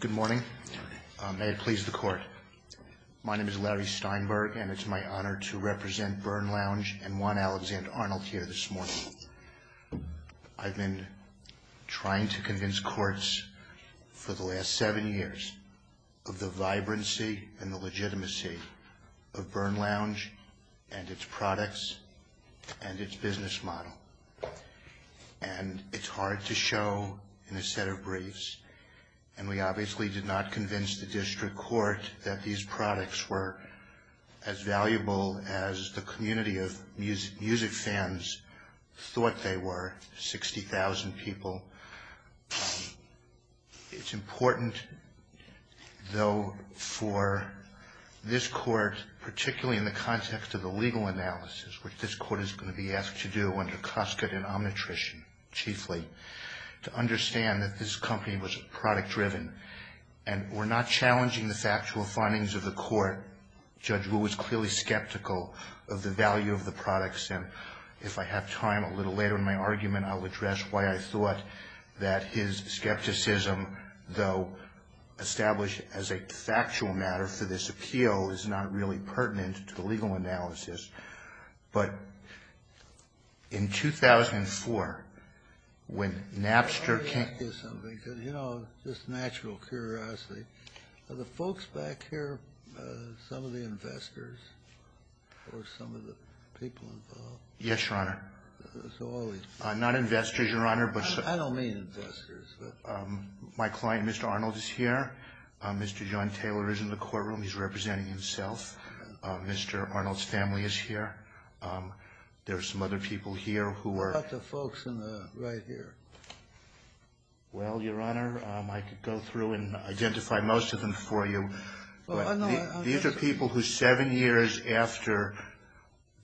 Good morning. May it please the Court. My name is Larry Steinberg, and it's my honor to represent Burnlounge and Juan Alexander Arnold here this morning. I've been trying to convince courts for the last seven years of the vibrancy and the legitimacy of Burnlounge and its products and its business model. And it's hard to show in a set of briefs. And we obviously did not convince the district court that these products were as valuable as the community of music fans thought they were, 60,000 people. So it's important, though, for this Court, particularly in the context of the legal analysis, which this Court is going to be asked to do under Cuscut and Omnitrition chiefly, to understand that this company was product-driven. And we're not challenging the factual findings of the Court. Judge Rule was clearly skeptical of the value of the products. And if I have time a little later in my argument, I'll address why I thought that his skepticism, though established as a factual matter for this appeal, is not really pertinent to the legal analysis. But in 2004, when Napster came... Let me ask you something, just natural curiosity. Are the folks back here some of the investors or some of the people involved? Yes, Your Honor. Not investors, Your Honor, but... I don't mean investors, but... My client, Mr. Arnold, is here. Mr. John Taylor is in the courtroom. He's representing himself. Mr. Arnold's family is here. There are some other people here who are... Not the folks in the right here. Well, Your Honor, I could go through and identify most of them for you. These are people who, seven years after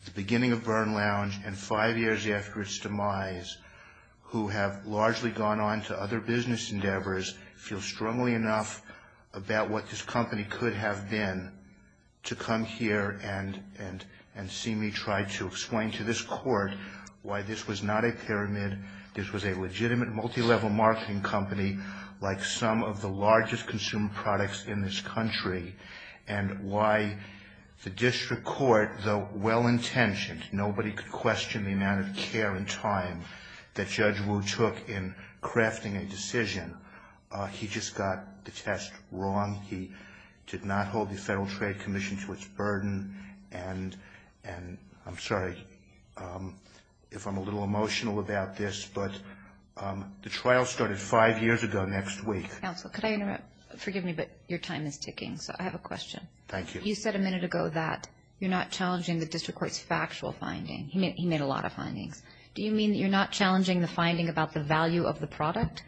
the beginning of Byrne Lounge and five years after its demise, who have largely gone on to other business endeavors, feel strongly enough about what this company could have been to come here and seemingly try to explain to this court why this was not a pyramid, this was a legitimate multilevel marketing company, like some of the largest consumer products in this country, and why the district court, though well-intentioned, nobody could question the amount of care and time that Judge Wu took in crafting a decision. He just got the test wrong. He did not hold the Federal Trade Commission to its burden. And I'm sorry if I'm a little emotional about this, but the trial started five years ago next week. Counsel, could I interrupt? Forgive me, but your time is ticking, so I have a question. Thank you. You said a minute ago that you're not challenging the district court's factual finding. He made a lot of findings. Do you mean you're not challenging the finding about the value of the product?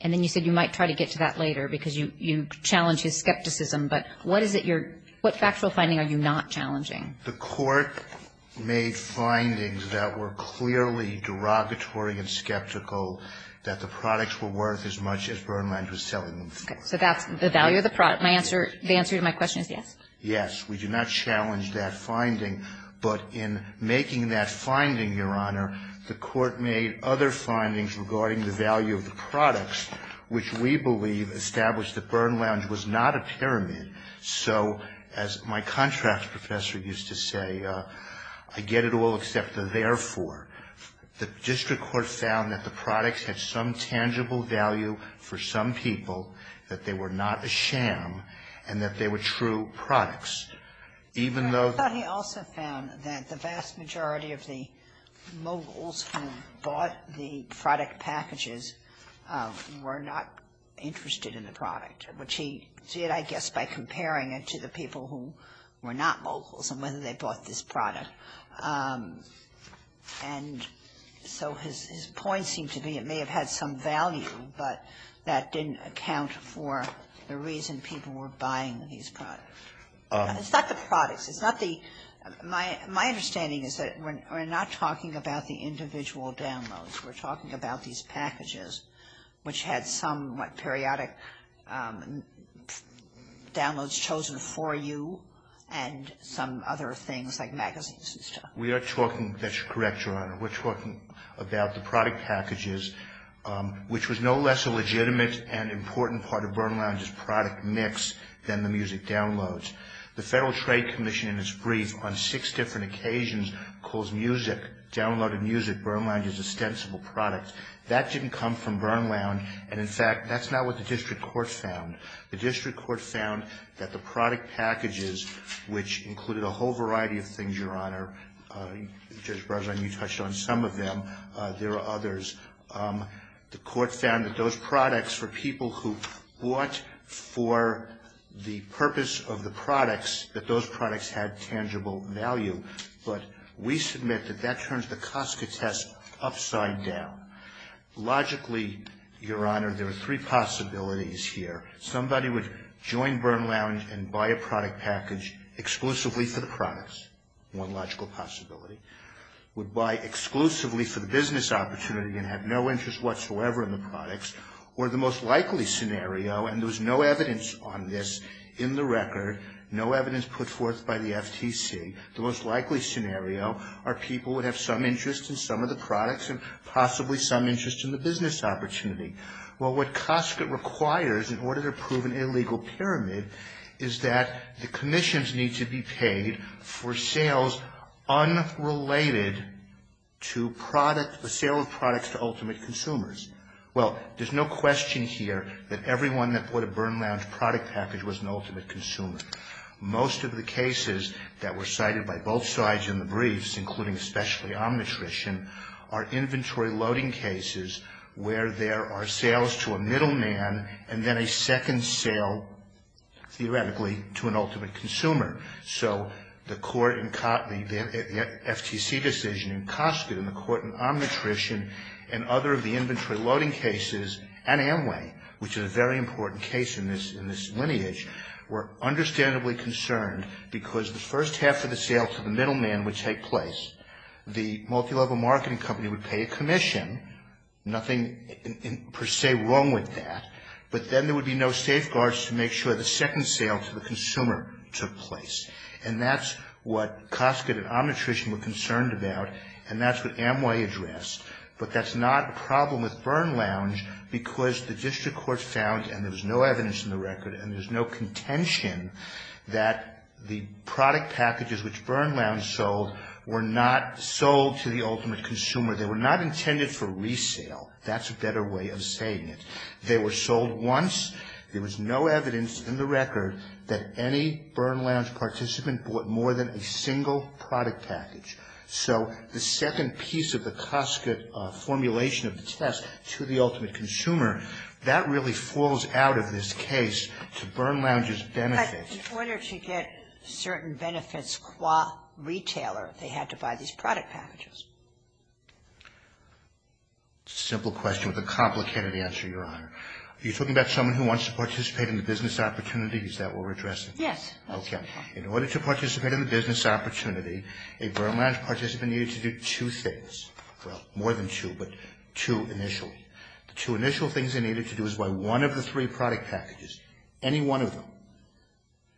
And then you said you might try to get to that later because you challenged his skepticism, but what factual finding are you not challenging? The court made findings that were clearly derogatory and skeptical, that the products were worth as much as Byrne Lounge was selling them for. So that's the value of the product. The answer to my question is yes. Yes. We do not challenge that finding. But in making that finding, Your Honor, the court made other findings regarding the value of the products, which we believe established that Byrne Lounge was not a pyramid. So, as my contrast professor used to say, I get it all except the therefore. The district court found that the products had some tangible value for some people, that they were not a sham, and that they were true products. The court also found that the vast majority of the moguls who bought the product packages were not interested in the product, which he did, I guess, by comparing it to the people who were not moguls and whether they bought this product. And so his point seemed to be it may have had some value, but that didn't account for the reason people were buying these products. It's not the products. My understanding is that we're not talking about the individual downloads. We're talking about these packages, which had some periodic downloads chosen for you and some other things like magazines and stuff. That's correct, Your Honor. We're talking about the product packages, which was no less a legitimate and important part of Byrne Lounge's product mix than the music downloads. The Federal Trade Commission, in its brief, on six different occasions calls music, Byrne Lounge's extensible products. That didn't come from Byrne Lounge. And, in fact, that's not what the district court found. The district court found that the product packages, which included a whole variety of things, Your Honor, Judge Barzani touched on some of them. There are others. The court found that those products were people who bought for the purpose of the products, that those products had tangible value. But we submit that that turns the cost of the test upside down. Logically, Your Honor, there are three possibilities here. Somebody would join Byrne Lounge and buy a product package exclusively for the products. One logical possibility. Would buy exclusively for the business opportunity and have no interest whatsoever in the products. Or the most likely scenario, and there's no evidence on this in the record, no evidence put forth by the FTC. The most likely scenario are people would have some interest in some of the products and possibly some interest in the business opportunity. Well, what Costco requires, in order to prove an illegal pyramid, is that the commissions need to be paid for sales unrelated to products, the sale of products to ultimate consumers. Well, there's no question here that everyone that bought a Byrne Lounge product package was an ultimate consumer. Most of the cases that were cited by both sides in the briefs, including especially arm nutrition, are inventory loading cases where there are sales to a middleman and then a second sale, theoretically, to an ultimate consumer. So, the court in Cotney, the FTC decision in Costco, and the court in arm nutrition and other of the inventory loading cases, and Amway, which is a very important case in this lineage, were understandably concerned because the first half of the sale to the middleman would take place. The multilevel marketing company would pay a commission. Nothing per se wrong with that. But then there would be no safeguards to make sure the second sale to the consumer took place. And that's what Costco and arm nutrition were concerned about, and that's what Amway addressed. But that's not a problem with Byrne Lounge because the district court found, and there's no evidence in the record and there's no contention, that the product packages which Byrne Lounge sold were not sold to the ultimate consumer. They were not intended for resale. That's a better way of saying it. They were sold once. There was no evidence in the record that any Byrne Lounge participant bought more than a single product package. So, the second piece of the Costco formulation of the test to the ultimate consumer, that really falls out of this case to Byrne Lounge's benefit. But in order to get certain benefits qua retailer, they have to buy these product packages. It's a simple question with a complicated answer, Your Honor. Are you talking about someone who wants to participate in the business opportunities that we're addressing? Yes. Okay. In order to participate in the business opportunity, a Byrne Lounge participant needed to do two things. Well, more than two, but two initials. The two initial things they needed to do was buy one of the three product packages, any one of them.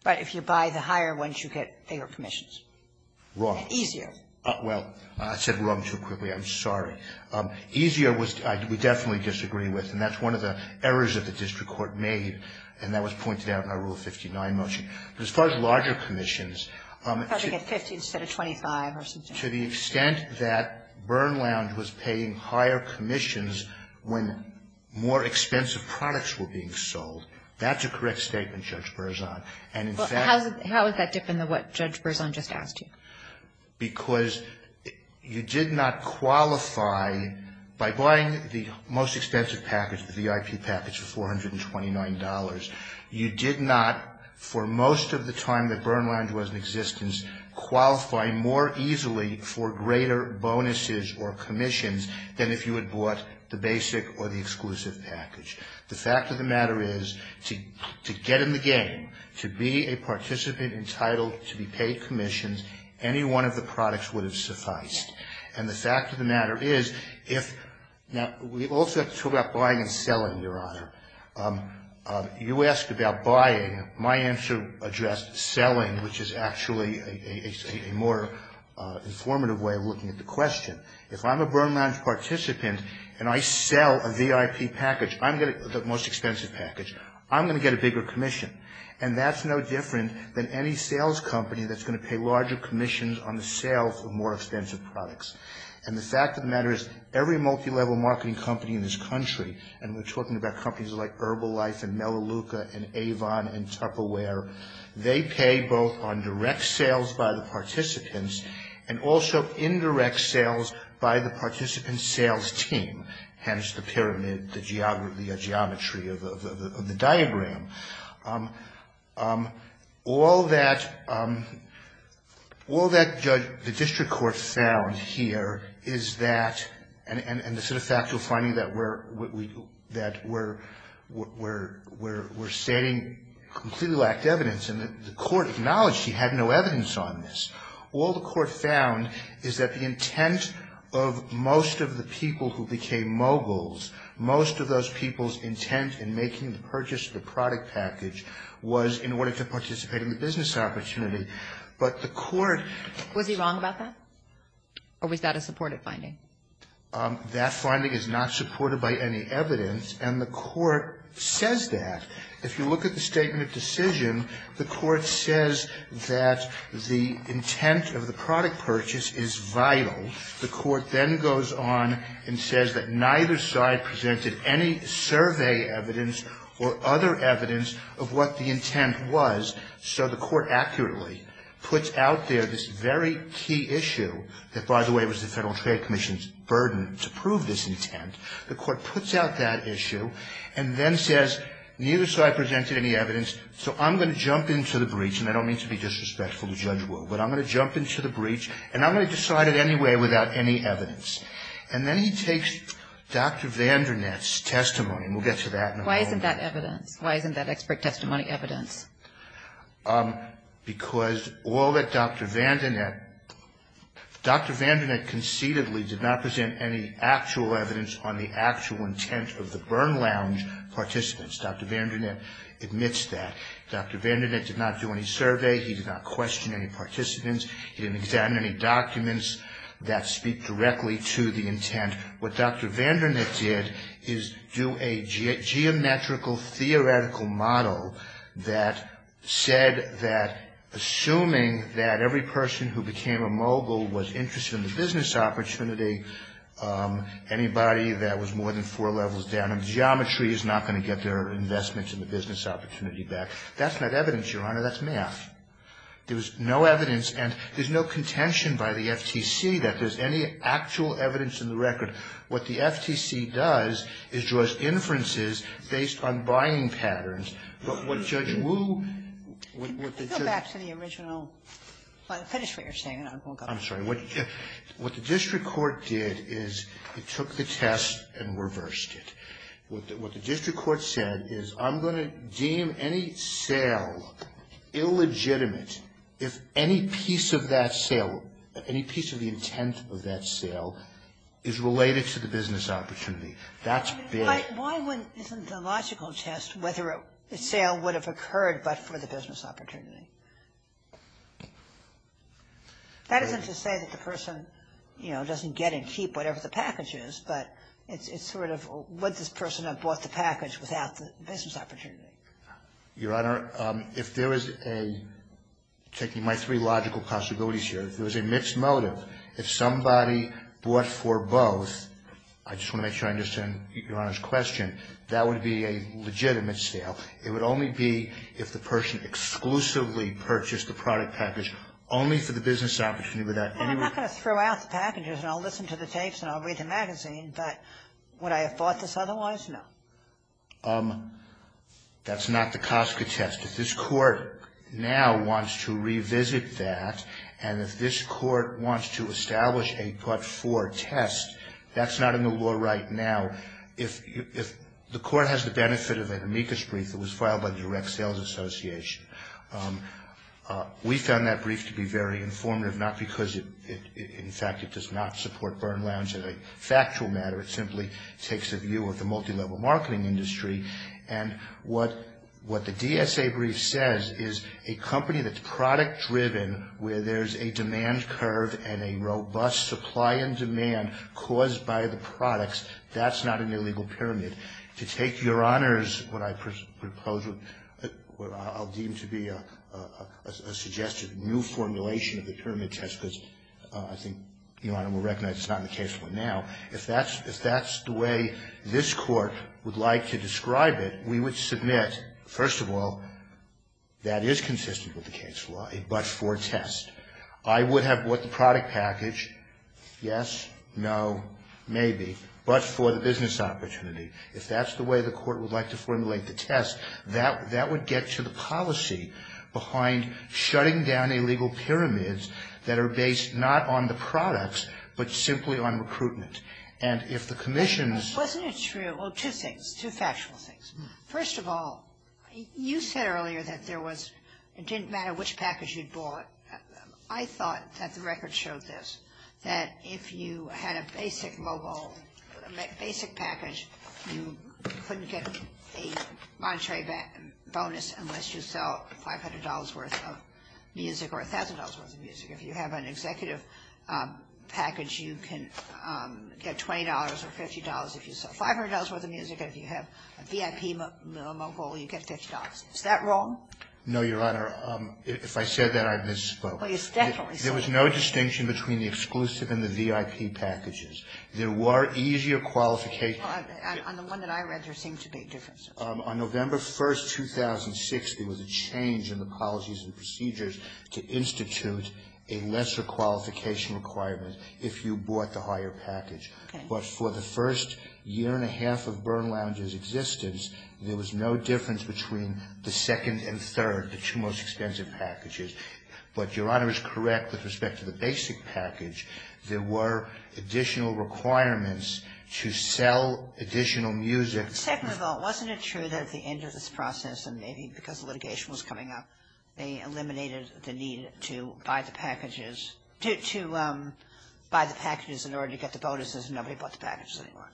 Right. If you buy the higher ones, you get fewer commissions. Wrong. Easier. Well, I said wrong too quickly. I'm sorry. Easier was we definitely disagree with, and that's one of the errors that the district court made, and that was pointed out in our Rule 59 motion. But as far as larger commissions. You said a 25 or something. To the extent that Byrne Lounge was paying higher commissions when more expensive products were being sold, that's a correct statement, Judge Berzon. How is that different than what Judge Berzon just asked you? Because you did not qualify by buying the most expensive package, the VIP package for $429. You did not, for most of the time that Byrne Lounge was in existence, qualify more easily for greater bonuses or commissions than if you had bought the basic or the exclusive package. The fact of the matter is to get in the game, to be a participant entitled to be paid commissions, any one of the products would have sufficed. And the fact of the matter is if we also talk about buying and selling, Your Honor. You asked about buying. My answer addressed selling, which is actually a more informative way of looking at the question. If I'm a Byrne Lounge participant and I sell a VIP package, the most expensive package, I'm going to get a bigger commission. And that's no different than any sales company that's going to pay larger commissions on the sale of more expensive products. And the fact of the matter is every multi-level marketing company in this country, and we're talking about companies like Herbalife and Melaleuca and Avon and Tupperware, they pay both on direct sales by the participants and also indirect sales by the participant's sales team, hence the pyramid, the geometry of the diagram. All that the district court found here is that, and this is a factual finding that we're stating completely lacked evidence. And the court acknowledged he had no evidence on this. All the court found is that the intent of most of the people who became moguls, most of those people's intent in making the purchase of the product package was in order to participate in the business opportunity. But the court ---- Was he wrong about that? Or was that a supportive finding? That finding is not supported by any evidence. And the court says that. If you look at the statement of decision, the court says that the intent of the product purchase is vital. The court then goes on and says that neither side presented any survey evidence or other evidence of what the intent was. So the court accurately puts out there this very key issue that, by the way, was the Federal Trade Commission's burden to prove this intent. The court puts out that issue and then says, neither side presented any evidence, so I'm going to jump into the breach, and I don't mean to be disrespectful to Judge Wood, but I'm going to jump into the breach and I'm going to decide it anyway without any evidence. And then he takes Dr. Vandernet's testimony, and we'll get to that in a moment. Why isn't that evidence? Why isn't that expert testimony evidence? Because all that Dr. Vandernet ---- Dr. Vandernet conceitedly did not present any actual evidence on the actual intent of the burn lounge participants. Dr. Vandernet admits that. Dr. Vandernet did not do any survey. He did not question any participants. He didn't examine any documents that speak directly to the intent. And what Dr. Vandernet did is do a geometrical theoretical model that said that, assuming that every person who became a mogul was interested in the business opportunity, anybody that was more than four levels down in geometry is not going to get their investments in the business opportunity back. That's not evidence, Your Honor. That's math. There's no evidence, and there's no contention by the FTC that there's any actual evidence in the record. What the FTC does is to ask inferences based on buying patterns. But what Judge Wu ---- Go back to the original. Finish what you're saying, and then we'll go on. I'm sorry. What the district court did is it took the test and reversed it. What the district court said is, I'm going to deem any sale illegitimate if any piece of that sale, any piece of the intent of that sale is related to the business opportunity. That's fair. Why wouldn't the logical test whether a sale would have occurred but for the business opportunity? That isn't to say that the person, you know, doesn't get and keep whatever the package is, but it's sort of, would this person have bought the package without the business opportunity? Your Honor, if there is a, taking my three logical possibilities here, there's a mixed motive. If somebody bought for both, I just want to make sure I understand Your Honor's question, that would be a legitimate sale. It would only be if the person exclusively purchased the product package only for the business opportunity. I'm not going to throw out the packages and I'll listen to the tapes and I'll read the magazine, but would I have bought this otherwise? No. That's not the COSCA test. If this court now wants to revisit that and if this court wants to establish a but-for test, that's not in the law right now. If the court has the benefit of an amicus brief that was filed by the Direct Sales Association, we found that brief to be very informative, not because, in fact, it does not support Byrne Lounge as a factual matter. It simply takes a view of the multilevel marketing industry, and what the DSA brief says is a company that's product-driven, where there's a demand curve and a robust supply and demand caused by the products, that's not an illegal pyramid. To take your honors, what I propose, what I'll deem to be a suggested new formulation of the pyramid test, because I think, you know, I recognize it's not in the case right now. If that's the way this court would like to describe it, we would submit, first of all, that is consistent with the case law, a but-for test. I would have bought the product package. Yes, no, maybe. But for the business opportunity. If that's the way the court would like to formulate the test, that would get to the policy behind shutting down illegal pyramids that are based not on the products, but simply on recruitment. And if the commission is... Wasn't it true? Well, two things, two factual things. First of all, you said earlier that there was, it didn't matter which package you'd bought. I thought that the record showed this, that if you had a basic mobile, basic package, you couldn't get a monetary bonus unless you sell $500 worth of music or $1,000 worth of music. If you have an executive package, you can get $20 or $50 if you sell $500 worth of music. If you have a VIP mobile, you get $50. Is that wrong? No, Your Honor. If I said that, I misspoke. Oh, yes, definitely. There was no distinction between the exclusive and the VIP packages. There were easier qualifications. On the one that I read, there seemed to be a difference. On November 1, 2006, there was a change in the policies and procedures to institute a lesser qualification requirement if you bought the higher package. But for the first year and a half of Byrne Lounge's existence, there was no difference between the second and third, the two most expensive packages. But Your Honor is correct with respect to the basic package. There were additional requirements to sell additional music. Second of all, wasn't it true that at the end of this process, and maybe because the litigation was coming up, they eliminated the need to buy the packages in order to get the bonuses and nobody bought the packages anymore?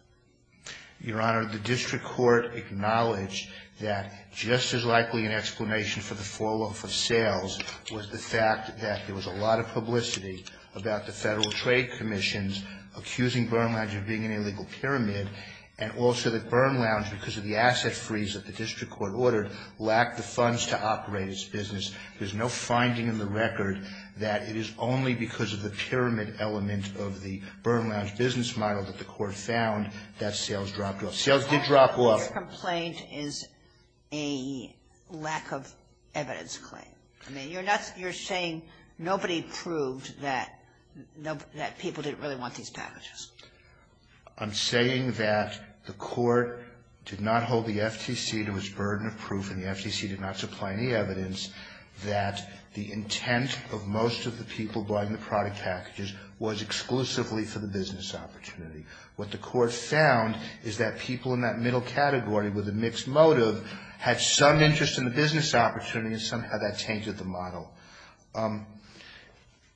Your Honor, the district court acknowledged that just as likely an explanation for the fall off of sales was the fact that there was a lot of publicity about the Federal Trade Commission's accusing Byrne Lounge of being an illegal pyramid and also that Byrne Lounge, because of the asset freeze that the district court ordered, lacked the funds to operate its business. There's no finding in the record that it is only because of the pyramid element of the Byrne Lounge business model that the court found that sales dropped off. Sales did drop off. Your complaint is a lack of evidence claim. I mean, you're saying nobody proved that people didn't really want these packages. I'm saying that the court did not hold the FTC to its burden of proof and the FTC did not supply any evidence that the intent of most of the people buying the product packages was exclusively for the business opportunity. What the court found is that people in that middle category with a mixed motive had some interest in the business opportunity and somehow that changed the model.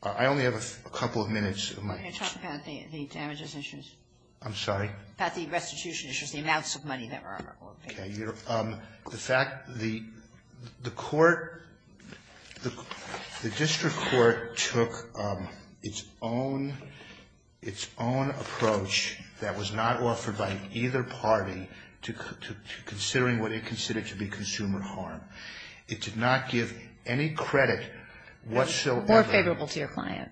I only have a couple of minutes. You're talking about the damages issues. I'm sorry? About the restitution issues, the amounts of money there are. The fact that the court, the district court took its own approach that was not offered by either party to considering what it considered to be consumer harm. It did not give any credit whatsoever. More favorable to your client.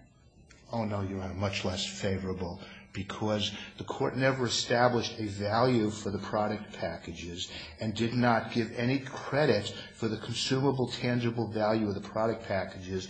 Oh, no, Your Honor, much less favorable, because the court never established a value for the product packages and did not give any credit for the consumable, tangible value of the product packages.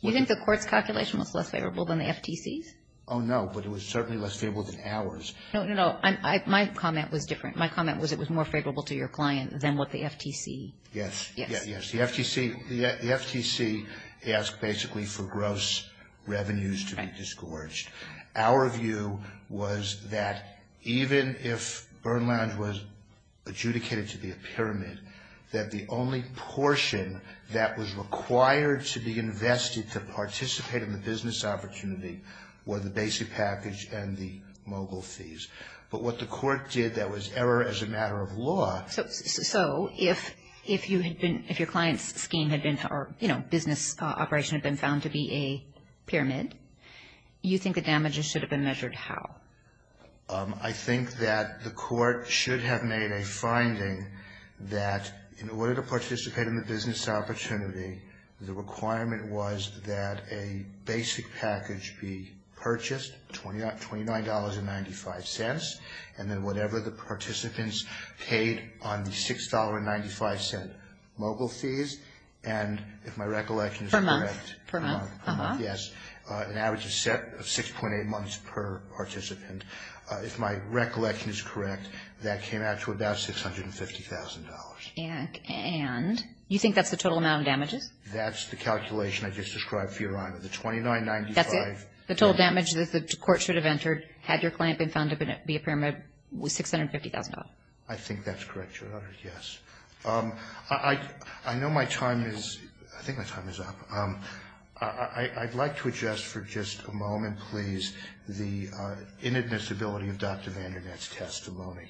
You think the court's calculation was less favorable than the FTC's? Oh, no, but it was certainly less favorable than ours. No, no, no. My comment was different. My comment was it was more favorable to your client than what the FTC. Yes, yes, yes. The FTC asked basically for gross revenues to be disgorged. Our view was that even if Burn Lounge was adjudicated to be a pyramid, that the only portion that was required to be invested to participate in the business opportunity were the basic package and the mogul fees. But what the court did that was error as a matter of law. So if your client's scheme had been, you know, business operation had been found to be a pyramid, you think the damages should have been measured how? I think that the court should have made a finding that in order to participate in the business opportunity, the requirement was that a basic package be purchased, $29.95, and then whatever the participants paid on the $6.95 mogul fees, and if my recollection is correct. Per month. Per month, yes. An average is set at 6.8 months per participant. If my recollection is correct, that came out to about $650,000. And you think that's the total amount of damages? That's the calculation I just described for your honor. The $29.95. That's it? The total damage that the court should have entered had your client been found to be a pyramid was $650,000. I think that's correct, Your Honor, yes. I know my time is, I think my time is up. I'd like to address for just a moment, please, the inadmissibility of Dr. Vandernet's testimony.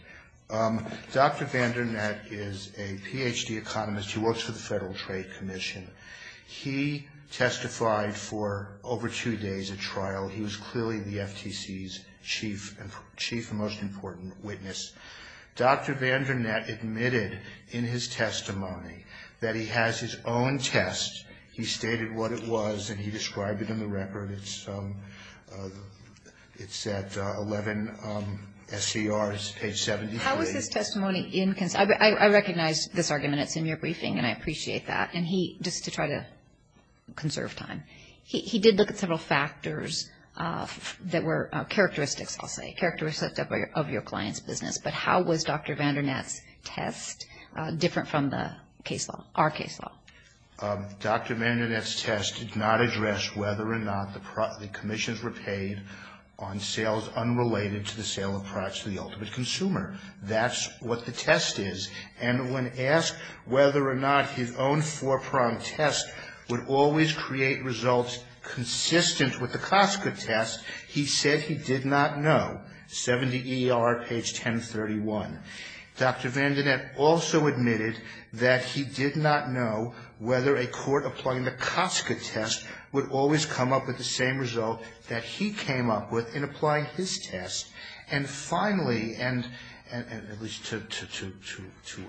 Dr. Vandernet is a Ph.D. economist who works for the Federal Trade Commission. He testified for over two days at trial. He was clearly the FTC's chief and most important witness. Dr. Vandernet admitted in his testimony that he has his own test. He stated what it was, and he described it in the record. It's at 11 SCRs, page 73. How was his testimony? I recognize this argument. It's in your briefing, and I appreciate that. And he, just to try to conserve time, he did look at several factors that were characteristics, I'll say, of your client's business. But how was Dr. Vandernet's test different from the case law, our case law? Dr. Vandernet's test did not address whether or not the commissions were paid on sales unrelated to the sale of products to the ultimate consumer. That's what the test is. And when asked whether or not his own four-prong test would always create results consistent with the Costco test, he said he did not know, 70 ER, page 1031. Dr. Vandernet also admitted that he did not know whether a court applying the Costco test would always come up with the same result that he came up with in applying his test. And finally, and it was to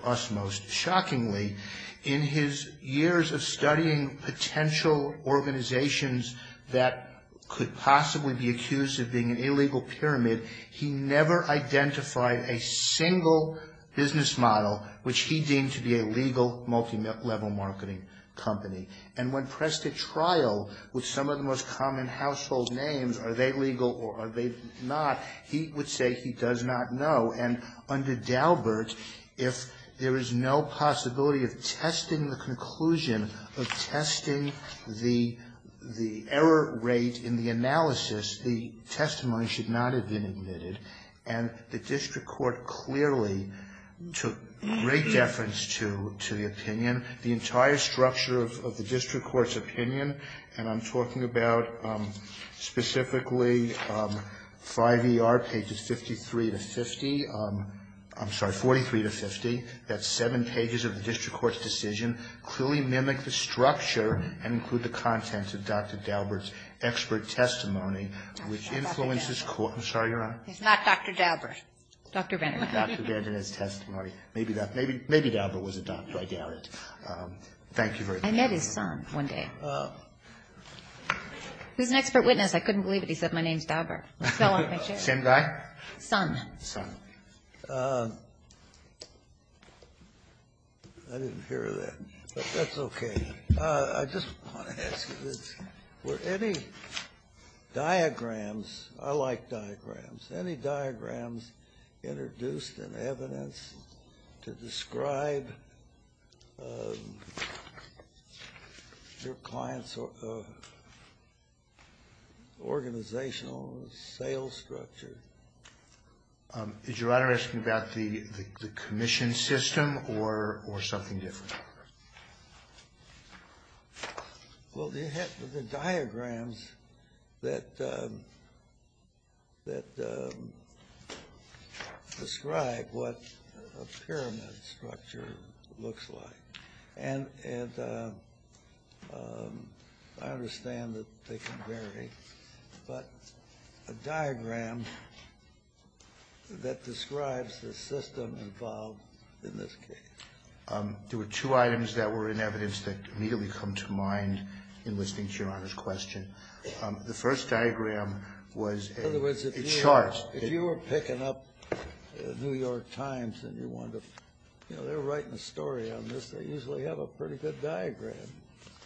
us most shockingly, in his years of studying potential organizations that could possibly be accused of being an illegal pyramid, he never identified a single business model which he deemed to be a legal, multi-level marketing company. And when pressed to trial with some of the most common household names, are they legal or are they not, he would say he does not know. And under Daubert, if there is no possibility of testing the conclusion, of testing the error rate in the analysis, the testimony should not have been admitted. And the district court clearly took great deference to the opinion. The entire structure of the district court's opinion, and I'm talking about specifically 5 ER pages 53 to 50. I'm sorry, 43 to 50. That's seven pages of the district court's decision. Clearly mimic the structure and include the contents of Dr. Daubert's expert testimony which influences court. I'm sorry, Your Honor. It's not Dr. Daubert. Dr. Vandernet. Dr. Vandernet's testimony. Maybe Daubert was a doctor. I doubt it. Thank you very much. I met his son one day. He was an expert witness. I couldn't believe it. He said, my name's Daubert. I fell off the chair. Same guy? Son. Son. I didn't hear that, but that's okay. I just want to ask you this. Were any diagrams, I like diagrams, any diagrams introduced in evidence to describe your client's organizational sales structure? Is Your Honor asking about the commission system or something different? Well, you have the diagrams that describe what a pyramid structure looks like. And I understand that they can vary, but a diagram that describes the system involved in this case. There were two items that were in evidence that immediately come to mind in listening to Your Honor's question. The first diagram was a chart. In other words, if you were picking up the New York Times and you wanted to, you know, they're writing a story on this. They usually have a pretty good diagram.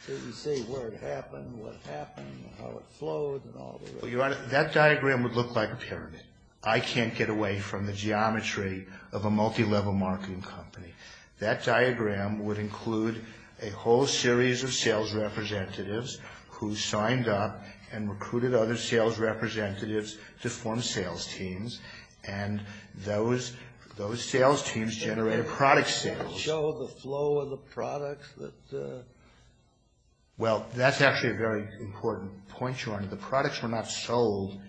You can see where it happened, what happened, how it flows and all that. Your Honor, that diagram would look like a pyramid. I can't get away from the geometry of a multi-level marketing company. That diagram would include a whole series of sales representatives who signed up and recruited other sales representatives to form sales teams. And those sales teams generated product sales. Can you show the flow of the products? Well, that's actually a very important point, Your Honor. The products were not sold.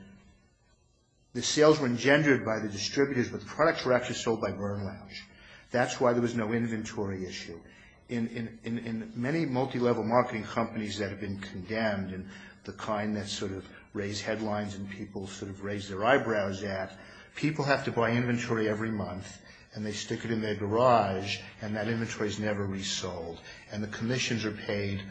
The sales were engendered by the distributors. The products were actually sold by Burr Lounge. That's why there was no inventory issue. In many multi-level marketing companies that have been condemned and the kind that sort of raise headlines and people sort of raise their eyebrows at, people have to buy inventory every month and they stick it in their garage and that inventory is never resold. And the commissions are paid.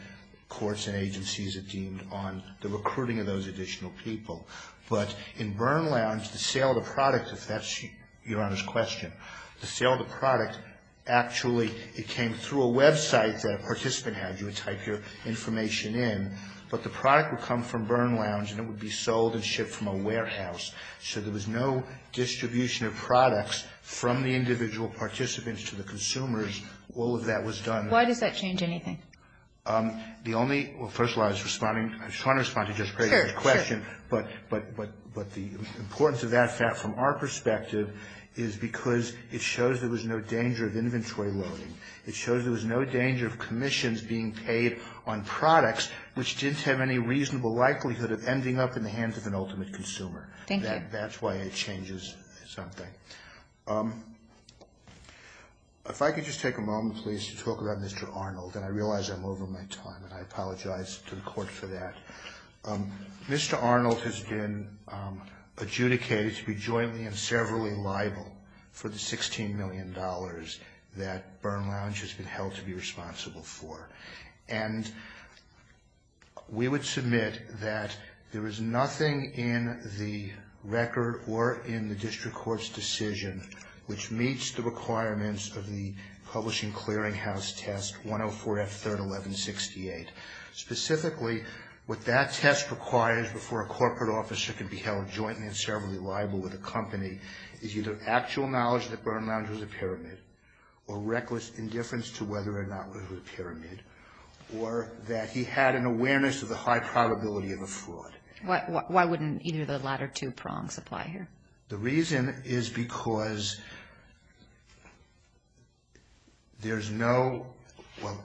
Courts and agencies are deemed on the recruiting of those additional people. But in Burr Lounge, the sale of the products, if that's Your Honor's question, the sale of the products, actually it came through a website that a participant had. You would type your information in. But the product would come from Burr Lounge and it would be sold and shipped from a warehouse. So there was no distribution of products from the individual participants to the consumers. All of that was done. Why did that change anything? The only – well, first of all, I was responding – I was trying to respond to Jessica's question. But the importance of that from our perspective is because it shows there was no danger of inventory loading. It shows there was no danger of commissions being paid on products, which didn't have any reasonable likelihood of ending up in the hands of an ultimate consumer. Thank you. That's why it changes something. If I could just take a moment, please, to talk about Mr. Arnold. And I realize I'm over my time, and I apologize to the Court for that. Mr. Arnold has been adjudicated to be jointly and severally liable for the $16 million that Burr Lounge has been held to be responsible for. And we would submit that there is nothing in the record or in the district court's decision which meets the requirements of the Publishing Clearinghouse Test 104F31168. Specifically, what that test requires before a corporate officer can be held jointly and severally liable with a company is either actual knowledge that Burr Lounge was a pyramid or reckless indifference to whether or not Burr Lounge was a pyramid, or that he had an awareness of the high probability of a fraud. Why wouldn't either of the latter two prongs apply here? The reason is because there's no – well,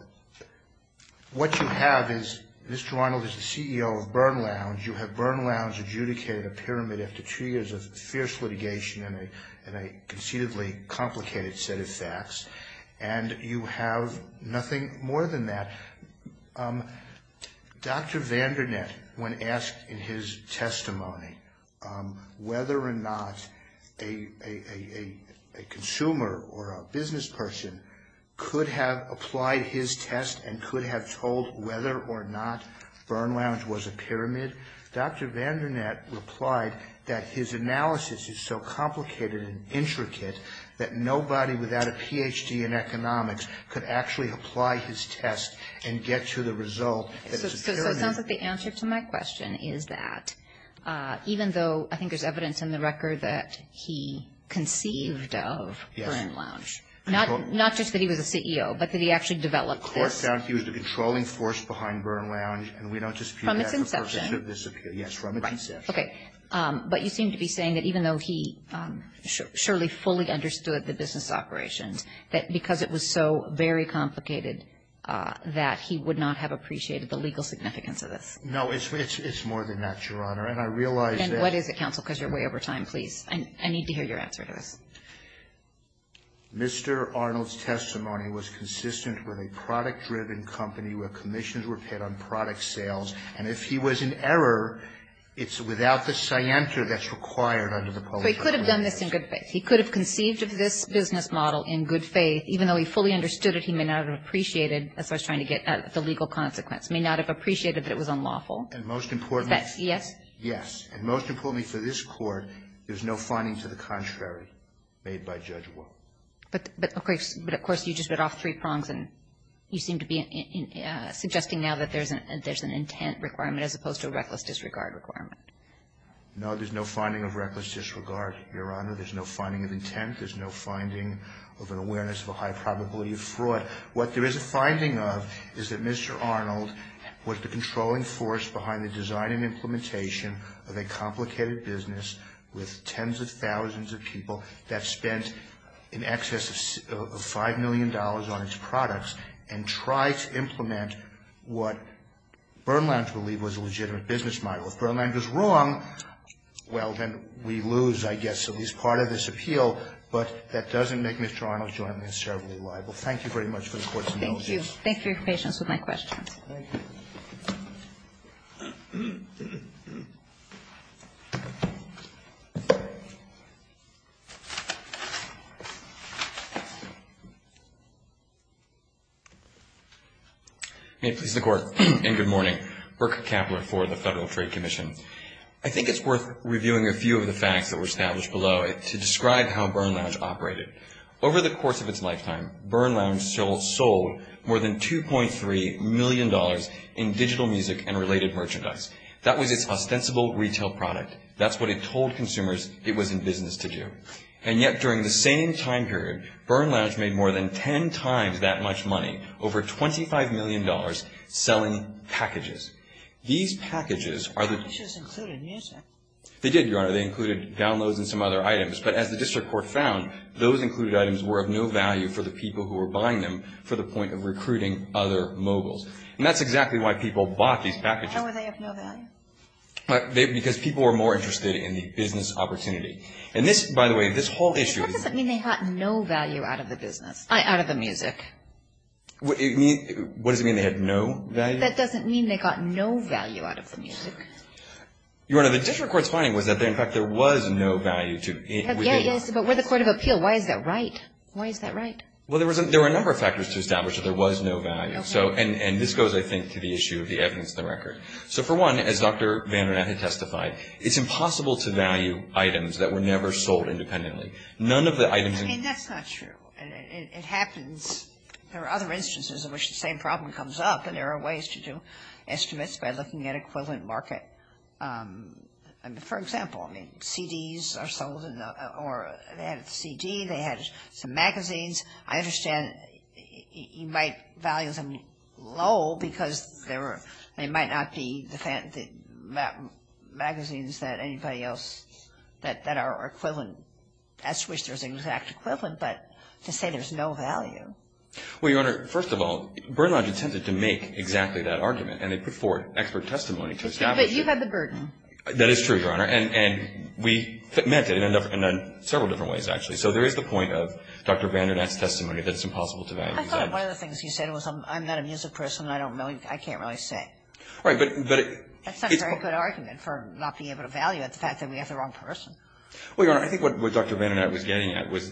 what you have is Mr. Arnold is the CEO of Burr Lounge. You have Burr Lounge adjudicated a pyramid after two years of fierce litigation and a conceivably complicated set of facts, and you have nothing more than that. Dr. Vandernet, when asked in his testimony whether or not a consumer or a business person could have applied his test and could have told whether or not Burr Lounge was a pyramid, Dr. Vandernet replied that his analysis is so complicated and intricate that nobody without a Ph.D. in economics could actually apply his test and get to the result that it's a pyramid. The answer to my question is that even though I think there's evidence in the record that he conceived of Burr Lounge, not just that he was a CEO, but that he actually developed it. He was a controlling force behind Burr Lounge, and we don't dispute that. From his conception. Yes, from his conception. Okay. But you seem to be saying that even though he surely fully understood the business operation, that because it was so very complicated that he would not have appreciated the legal significance of it. No, it's more than that, Your Honor, and I realize that – And what is it, counsel, because you're way over time. Please. I need to hear your answer to this. Mr. Arnold's testimony was consistent with a product-driven company where commissions were paid on product sales, and if he was in error, it's without the scienter that's required under the public- He could have done this in good faith. He could have conceived of this business model in good faith, even though he fully understood that he may not have appreciated the legal consequence, may not have appreciated that it was unlawful. And most importantly – Yes. Yes. And most importantly for this court, there's no finding to the contrary made by Judge Wolk. But, of course, you just went off three prongs, and you seem to be suggesting now that there's an intent requirement as opposed to a reckless disregard requirement. No, there's no finding of reckless disregard, Your Honor. There's no finding of intent. There's no finding of an awareness of a high probability of fraud. What there is a finding of is that Mr. Arnold was the controlling force behind the design and implementation of a complicated business with tens of thousands of people that spent in excess of $5 million on its products and tried to implement what Burland believed was a legitimate business model. If Burland was wrong, well, then we lose, I guess. So he's part of this appeal, but that doesn't make Mr. Arnold's judgment as terribly liable. Thank you very much for the court's notice. Thank you. Thank you. Thanks for your patience with my question. May it please the Court, and good morning. Burke Kappeler for the Federal Trade Commission. I think it's worth reviewing a few of the facts that were established below to describe how Burland operated. Over the course of its lifetime, Burland sold more than $2.3 million in digital music and related merchandise. That was its ostensible retail product. That's what it told consumers it was in business to do. And yet, during the same time period, Burland made more than ten times that much money, over $25 million, selling packages. These packages are the... They just included music. They did, Your Honor. They included downloads and some other items. But as the district court found, those included items were of no value for the people who were buying them for the point of recruiting other moguls. And that's exactly why people bought these packages. How were they of no value? Because people were more interested in the business opportunity. And this, by the way, this whole issue... What does it mean they got no value out of the music? What does it mean they had no value? That doesn't mean they got no value out of the music. Your Honor, the district court's finding was that, in fact, there was no value to... Yes, but we're the court of appeal. Why is that right? Why is that right? Well, there were a number of factors to establish that there was no value. And this goes, I think, to the issue of the evidence of the record. So, for one, as Dr. Vandermath has testified, it's impossible to value items that were never sold independently. None of the items... And that's not true. It happens. There are other instances in which the same problem comes up, and there are ways to do estimates by looking at equivalent market. For example, CDs are sold... Or they had a CD, they had some magazines. I understand you might value them low because they might not be the magazines that anybody else... that are equivalent, as to which there's an exact equivalent, but to say there's no value... Well, Your Honor, first of all, Burnlodge attempted to make exactly that argument, and they put forward expert testimony to establish it. But you had the burden. That is true, Your Honor. And we met it in several different ways, actually. So, there is the point of Dr. Vandermath's testimony that it's impossible to value items. I thought one of the things he said was, I'm not a music person, I don't know, I can't really say. Right, but... That's not a very good argument for not being able to value it, the fact that we have the wrong person. Well, Your Honor, I think what Dr. Vandermath was getting at was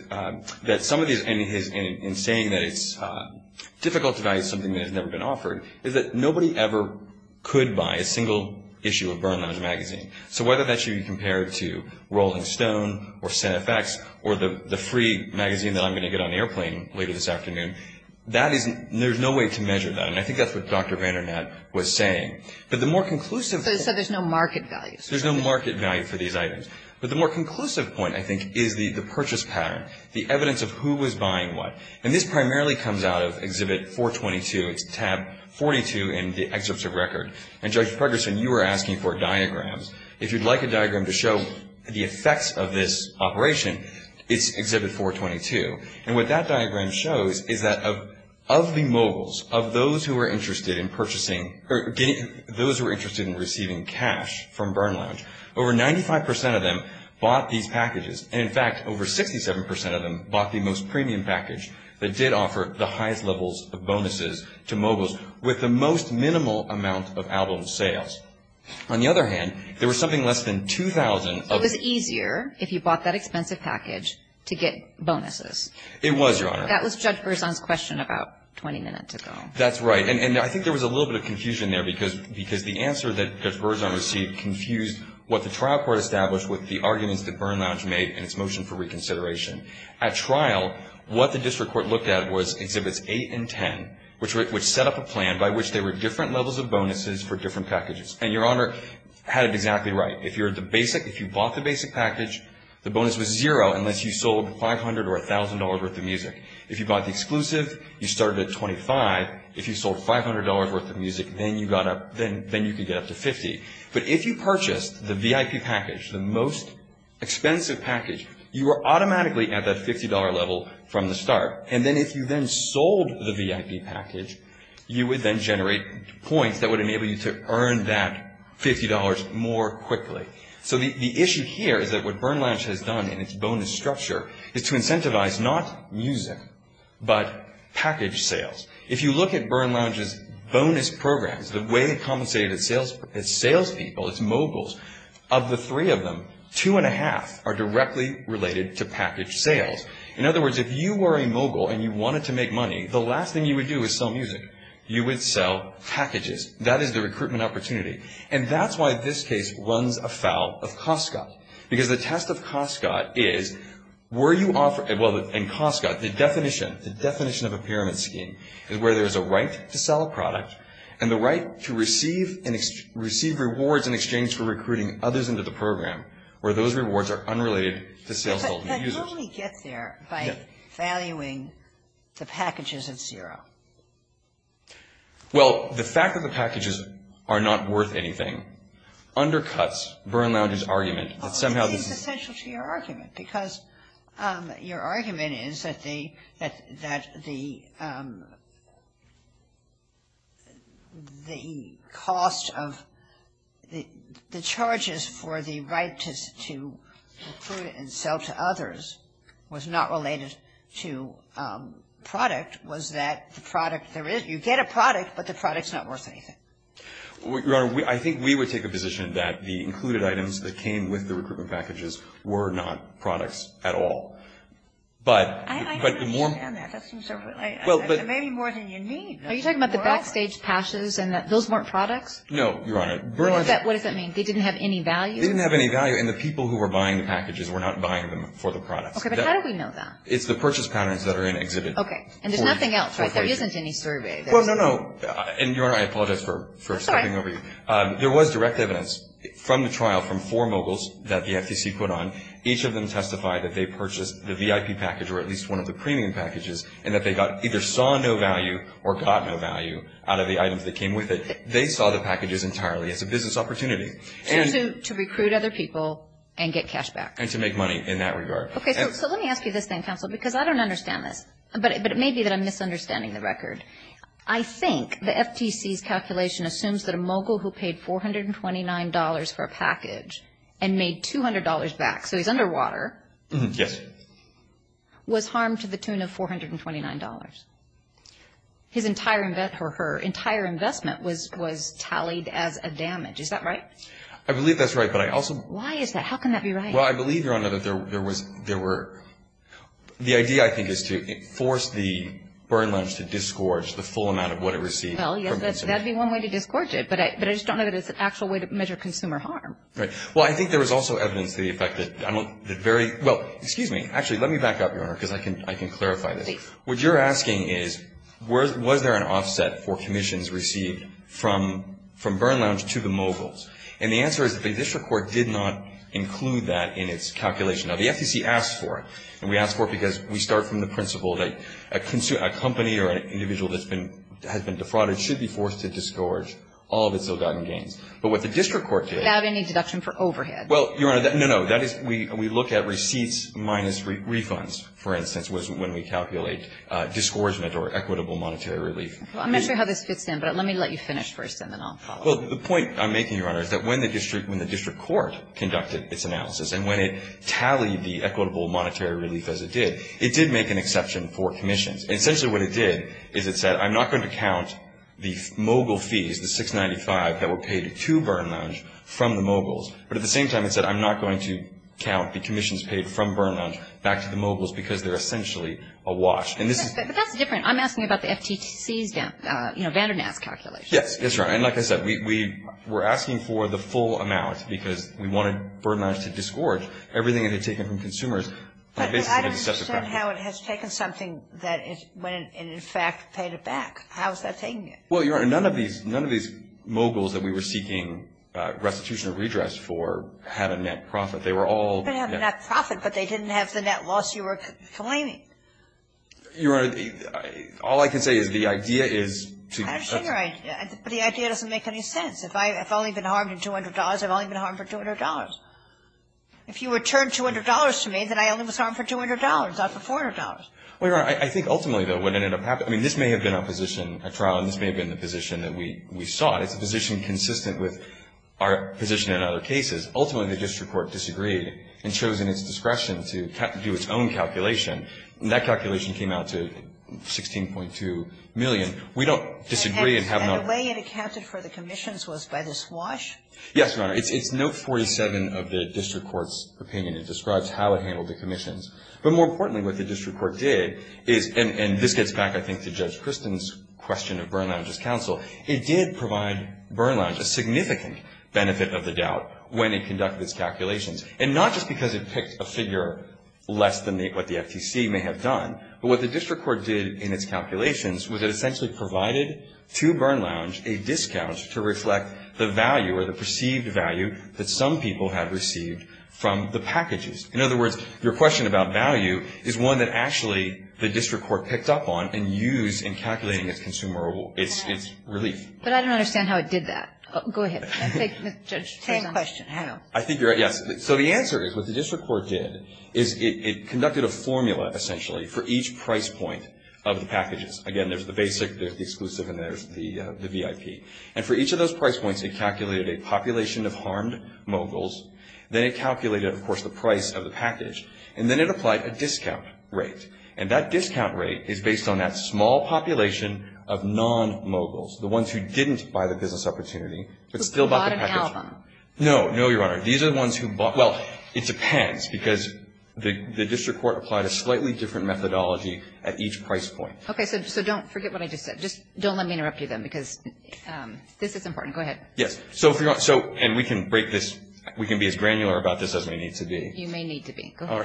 that some of these... I think what he was getting at in saying that it's difficult to value something that has never been offered is that nobody ever could buy a single issue of Burnlodge magazine. So, whether that should be compared to Rolls and Stone or Set FX or the free magazine that I'm going to get on the airplane later this afternoon, there's no way to measure that, and I think that's what Dr. Vandermath was saying. But the more conclusive... So, there's no market value. There's no market value for these items. But the more conclusive point, I think, is the purchase pattern, the evidence of who was buying what. And this primarily comes out of Exhibit 422, tab 42 in the excerpts of record. And Judge Pregerson, you were asking for diagrams. If you'd like a diagram to show the effects of this operation, it's Exhibit 422. And what that diagram shows is that of the mobiles, of those who are interested in purchasing... those who are interested in receiving cash from Burnlodge, over 95% of them bought these packages. And, in fact, over 67% of them bought the most premium package that did offer the highest levels of bonuses to mobiles with the most minimal amount of out-of-sales. On the other hand, there was something less than 2,000... It was easier if you bought that expensive package to get bonuses. It was, Your Honor. That was Judge Pregerson's question about 20 minutes ago. That's right. And I think there was a little bit of confusion there because the answer that Judge Pregerson received confused what the trial court established with the arguments that Burnlodge made in its motion for reconsideration. At trial, what the district court looked at was Exhibits 8 and 10, which set up a plan by which there were different levels of bonuses for different packages. And Your Honor had it exactly right. If you bought the basic package, the bonus was zero unless you sold $500 or $1,000 worth of music. If you bought the exclusive, you started at $25. If you sold $500 worth of music, then you could get up to $50. But if you purchased the VIP package, the most expensive package, you were automatically at that $50 level from the start. And then if you then sold the VIP package, you would then generate points that would enable you to earn that $50 more quickly. So the issue here is that what Burnlodge has done in its bonus structure is to incentivize not music but package sales. If you look at Burnlodge's bonus programs, the way it compensated its salespeople, its moguls, of the three of them, two and a half are directly related to package sales. In other words, if you were a mogul and you wanted to make money, the last thing you would do is sell music. You would sell packages. That is the recruitment opportunity. And that's why this case runs afoul of Costco. Because the test of Costco is where you offer – well, in Costco, the definition of a pyramid scheme is where there's a right to sell a product and the right to receive rewards in exchange for recruiting others into the program, where those rewards are unrelated to salespeople and users. But how do we get there by valuing the packages at zero? Well, the fact that the packages are not worth anything undercuts Burnlodge's argument that somehow – What is the potential to your argument? Because your argument is that the cost of – the charges for the right to recruit and sell to others was not related to product, was that the product there is – you get a product, but the product's not worth anything. Your Honor, I think we would take a position that the included items that came with the recruitment packages were not products at all. But the more – I understand that. That seems so – maybe more than you need. Are you talking about the backstage cashes and that those weren't products? No, Your Honor. What does that mean? They didn't have any value? They didn't have any value. And the people who were buying the packages were not buying them for the product. Okay, but how do we know that? It's the purchase patterns that are in exhibit. Okay. And there's nothing else, right? There isn't any survey. Well, no, no. And Your Honor, I apologize for stepping over you. Sorry. There was direct evidence from the trial from four moguls that the FTC put on. Each of them testified that they purchased the VIP package or at least one of the premium packages and that they either saw no value or got no value out of the items that came with it. They saw the packages entirely as a business opportunity. To recruit other people and get cash back. And to make money in that regard. Okay, so let me ask you this then, counsel, because I don't understand this. But it may be that I'm misunderstanding the record. I think the FTC's calculation assumes that a mogul who paid $429 for a package and made $200 back, so he's underwater. Yes. Was harmed to the tune of $429. His entire investment or her entire investment was tallied as a damage. Is that right? I believe that's right, but I also... Why is that? How can that be right? Well, I believe, Your Honor, that there were... The idea, I think, is to force the burn lounge to disgorge the full amount of what it received. Well, yes, that would be one way to disgorge it. But I just don't know that there's an actual way to measure consumer harm. Right. Well, I think there is also evidence to the effect that... Well, excuse me. Actually, let me back up, Your Honor, because I can clarify this. What you're asking is, was there an offset for commissions received from burn lounge to the moguls? And the answer is that the district court did not include that in its calculation. Now, the FCC asks for it, and we ask for it because we start from the principle that a company or an individual that has been defrauded should be forced to disgorge all that they've gotten gained. But what the district court did... Without any deduction for overhead. Well, Your Honor, no, no. We look at receipts minus refunds, for instance, when we calculate disgorgement or equitable monetary relief. I'm not sure how this fits in, but let me let you finish first, and then I'll follow up. Well, the point I'm making, Your Honor, is that when the district court conducted its analysis and when it tallied the equitable monetary relief as it did, it did make an exception for commissions. Essentially, what it did is it said, I'm not going to count the mogul fees, the 695, that were paid to burn lounge from the moguls. But at the same time, it said, I'm not going to count the commissions paid from burn lounge back to the moguls because they're essentially awash. But that's different. I'm asking about the FTC, you know, Vandernath calculation. Yes, that's right. And like I said, we're asking for the full amount because we want to burn lounge to disgorge. Everything that is taken from consumers... But I don't understand how it has taken something that went and, in fact, paid it back. How is that taking it? Well, Your Honor, none of these moguls that we were seeking restitution or redress for had a net profit. They were all... They didn't have a net profit, but they didn't have the net loss you were claiming. Your Honor, all I can say is the idea is to... I don't see your idea. But the idea doesn't make any sense. If I've only been harmed in $200, I've only been harmed for $200. If you return $200 to me, then I only was harmed for $200, not for $400. Well, Your Honor, I think ultimately, though, what ended up happening... I mean, this may have been our position at trial, and this may have been the position that we sought. It's a position consistent with our position in other cases. Ultimately, the district court disagreed and chosen its discretion to do its own calculation, and that calculation came out to $16.2 million. We don't disagree and have no... And the way it accounted for the commissions was by the swash? Yes, Your Honor. It's note 47 of the district court's opinion. It describes how it handled the commissions. But more importantly, what the district court did is... And this gets back, I think, to Judge Christin's question of Burnlounge's counsel. It did provide Burnlounge a significant benefit of the doubt when he conducted his calculations, and not just because it picked a figure less than what the FTC may have done, but what the district court did in its calculations was it essentially provided to Burnlounge a discount to reflect the value or the perceived value that some people have received from the packages. In other words, your question about value is one that actually the district court picked up on and used in calculating its relief. But I don't understand how it did that. Go ahead. Same question. I know. I think you're... Yes. So the answer is what the district court did is it conducted a formula, essentially, for each price point of the packages. Again, there's the basic, there's the exclusive, and there's the VIP. And for each of those price points, it calculated a population of harmed moguls. Then it calculated, of course, the price of the package. And then it applied a discount rate. And that discount rate is based on that small population of non-moguls, the ones who didn't buy the business opportunity, but still bought the package. The bottom album. No. No, Your Honor. These are the ones who bought... Well, it depends because the district court applied a slightly different methodology at each price point. Okay. So don't forget what I just said. Just don't let me interrupt you then because this is important. Go ahead. Yes. So, and we can break this. We can be as granular about this as we need to be. You may need to be. Go ahead. All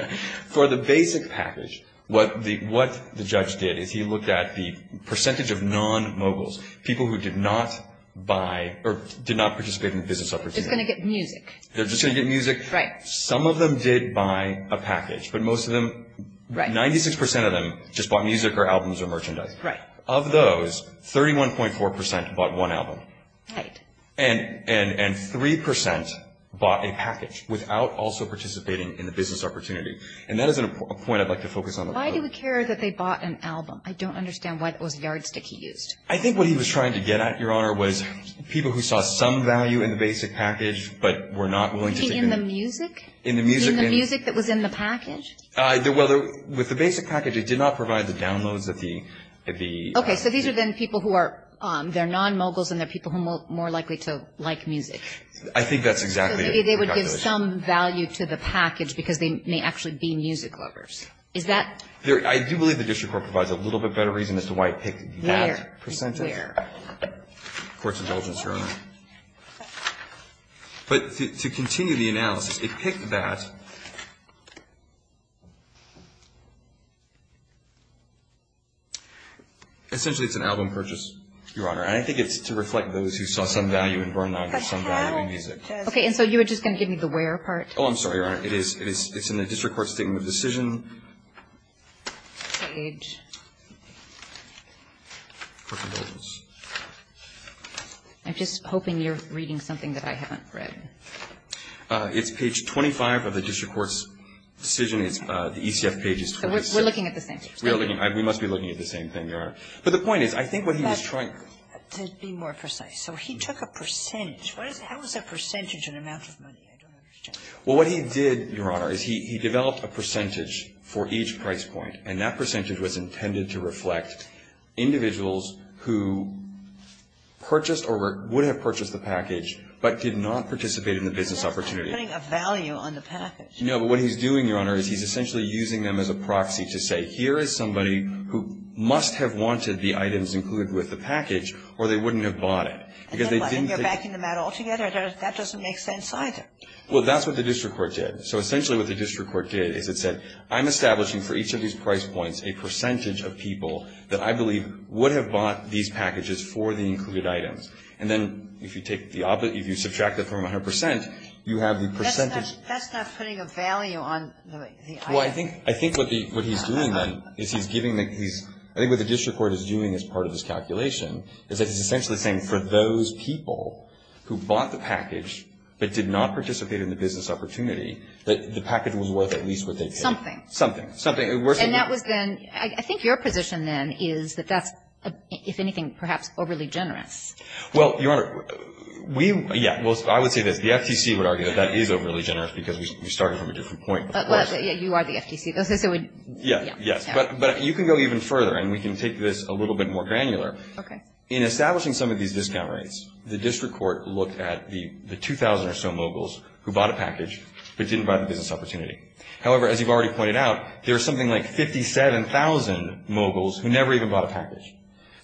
right. For the basic package, what the judge did is he looked at the percentage of non-moguls, people who did not buy or did not participate in the business opportunity. They're going to get music. They're just going to get music. Right. Some of them did buy a package, but most of them, 96% of them just bought music or albums or merchandise. Right. Of those, 31.4% bought one album. Right. And 3% bought a package without also participating in the business opportunity. And that is a point I'd like to focus on. Why do we care that they bought an album? I don't understand why that was very sticky news. I think what he was trying to get at, Your Honor, was people who saw some value in the basic package, but were not willing to take it. In the music? In the music. In the music that was in the package? Well, with the basic package, it did not provide the downloads of the music. Okay. So these are then people who are, they're non-moguls and they're people who are more likely to like music. I think that's exactly it. It would give some value to the package because they may actually be music lovers. Is that? I do believe the district court provides a little bit better reason as to why it picked that percentage. Where? Where? Court's indulgence, Your Honor. But to continue the analysis, it picked that. Essentially, it's an album purchase, Your Honor, and I think it's to reflect those who saw some value in Burn Lab and some value in music. Okay. And so you were just going to give me the where part? Oh, I'm sorry, Your Honor. It's in the district court statement of decision. Page. Court indulgence. I'm just hoping you're reading something that I haven't read. It's page 25 of the district court's decision, the ECF pages. We're looking at the same thing. We must be looking at the same thing, Your Honor. But the point is, I think what he was trying to do. Let's be more precise. So he took a percentage. How is a percentage an amount of money? Well, what he did, Your Honor, is he developed a percentage for each price point, and that percentage was intended to reflect individuals who purchased or wouldn't have purchased the package but did not participate in the business opportunity. He's not putting a value on the package. No, but what he's doing, Your Honor, is he's essentially using them as a proxy to say, here is somebody who must have wanted the items included with the package or they wouldn't have bought it. I don't like it. You're backing them out altogether. That doesn't make sense either. Well, that's what the district court did. So essentially what the district court did is it said, I'm establishing for each of these price points a percentage of people that I believe would have bought these packages for the included items. And then if you subtract that from 100%, you have the percentage. That's not putting a value on the item. Well, I think what he's doing then is he's giving these. I think what the district court is doing as part of his calculation is that he's essentially saying, for those people who bought the package but did not participate in the business opportunity, that the package was worth at least what they paid. Something. Something. Something. And that was then, I think your position then is that that's, if anything, perhaps overly generous. Well, Your Honor, we, yeah, well, I would say that the FCC would argue that that is overly generous because we started from a different point. Yeah, you are the FCC. Yeah, yeah. But you can go even further and we can take this a little bit more granular. Okay. In establishing some of these discount rates, the district court looked at the 2,000 or so moguls who bought a package but didn't buy the business opportunity. However, as you've already pointed out, there's something like 57,000 moguls who never even bought a package.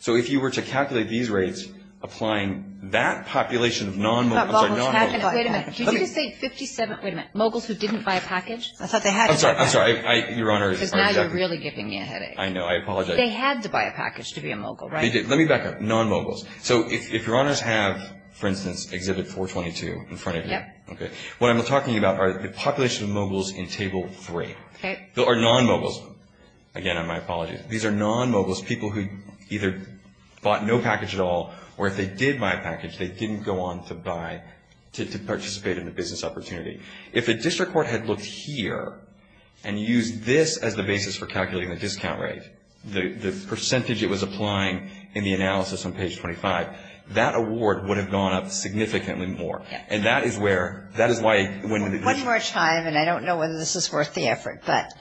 So if you were to calculate these rates applying that population of non-moguls. Wait a minute. Did you just say 57,000 moguls who didn't buy a package? I thought they had to buy a package. I'm sorry. Your Honor. Now you're really giving me a headache. I know. I apologize. But they had to buy a package to be a mogul, right? They did. Let me back up. Non-moguls. So if Your Honors have, for instance, Exhibit 422 in front of you. Yeah. Okay. What I'm talking about are the population of moguls in Table 3. Okay. Or non-moguls. Again, I apologize. These are non-moguls, people who either bought no package at all or if they did buy a package, they didn't go on to buy, to participate in the business opportunity. If the district court had looked here and used this as the basis for calculating the discount rate, the percentage it was applying in the analysis on page 25, that award would have gone up significantly more. And that is where, that is why. One more time, and I don't know whether this is worth the effort, but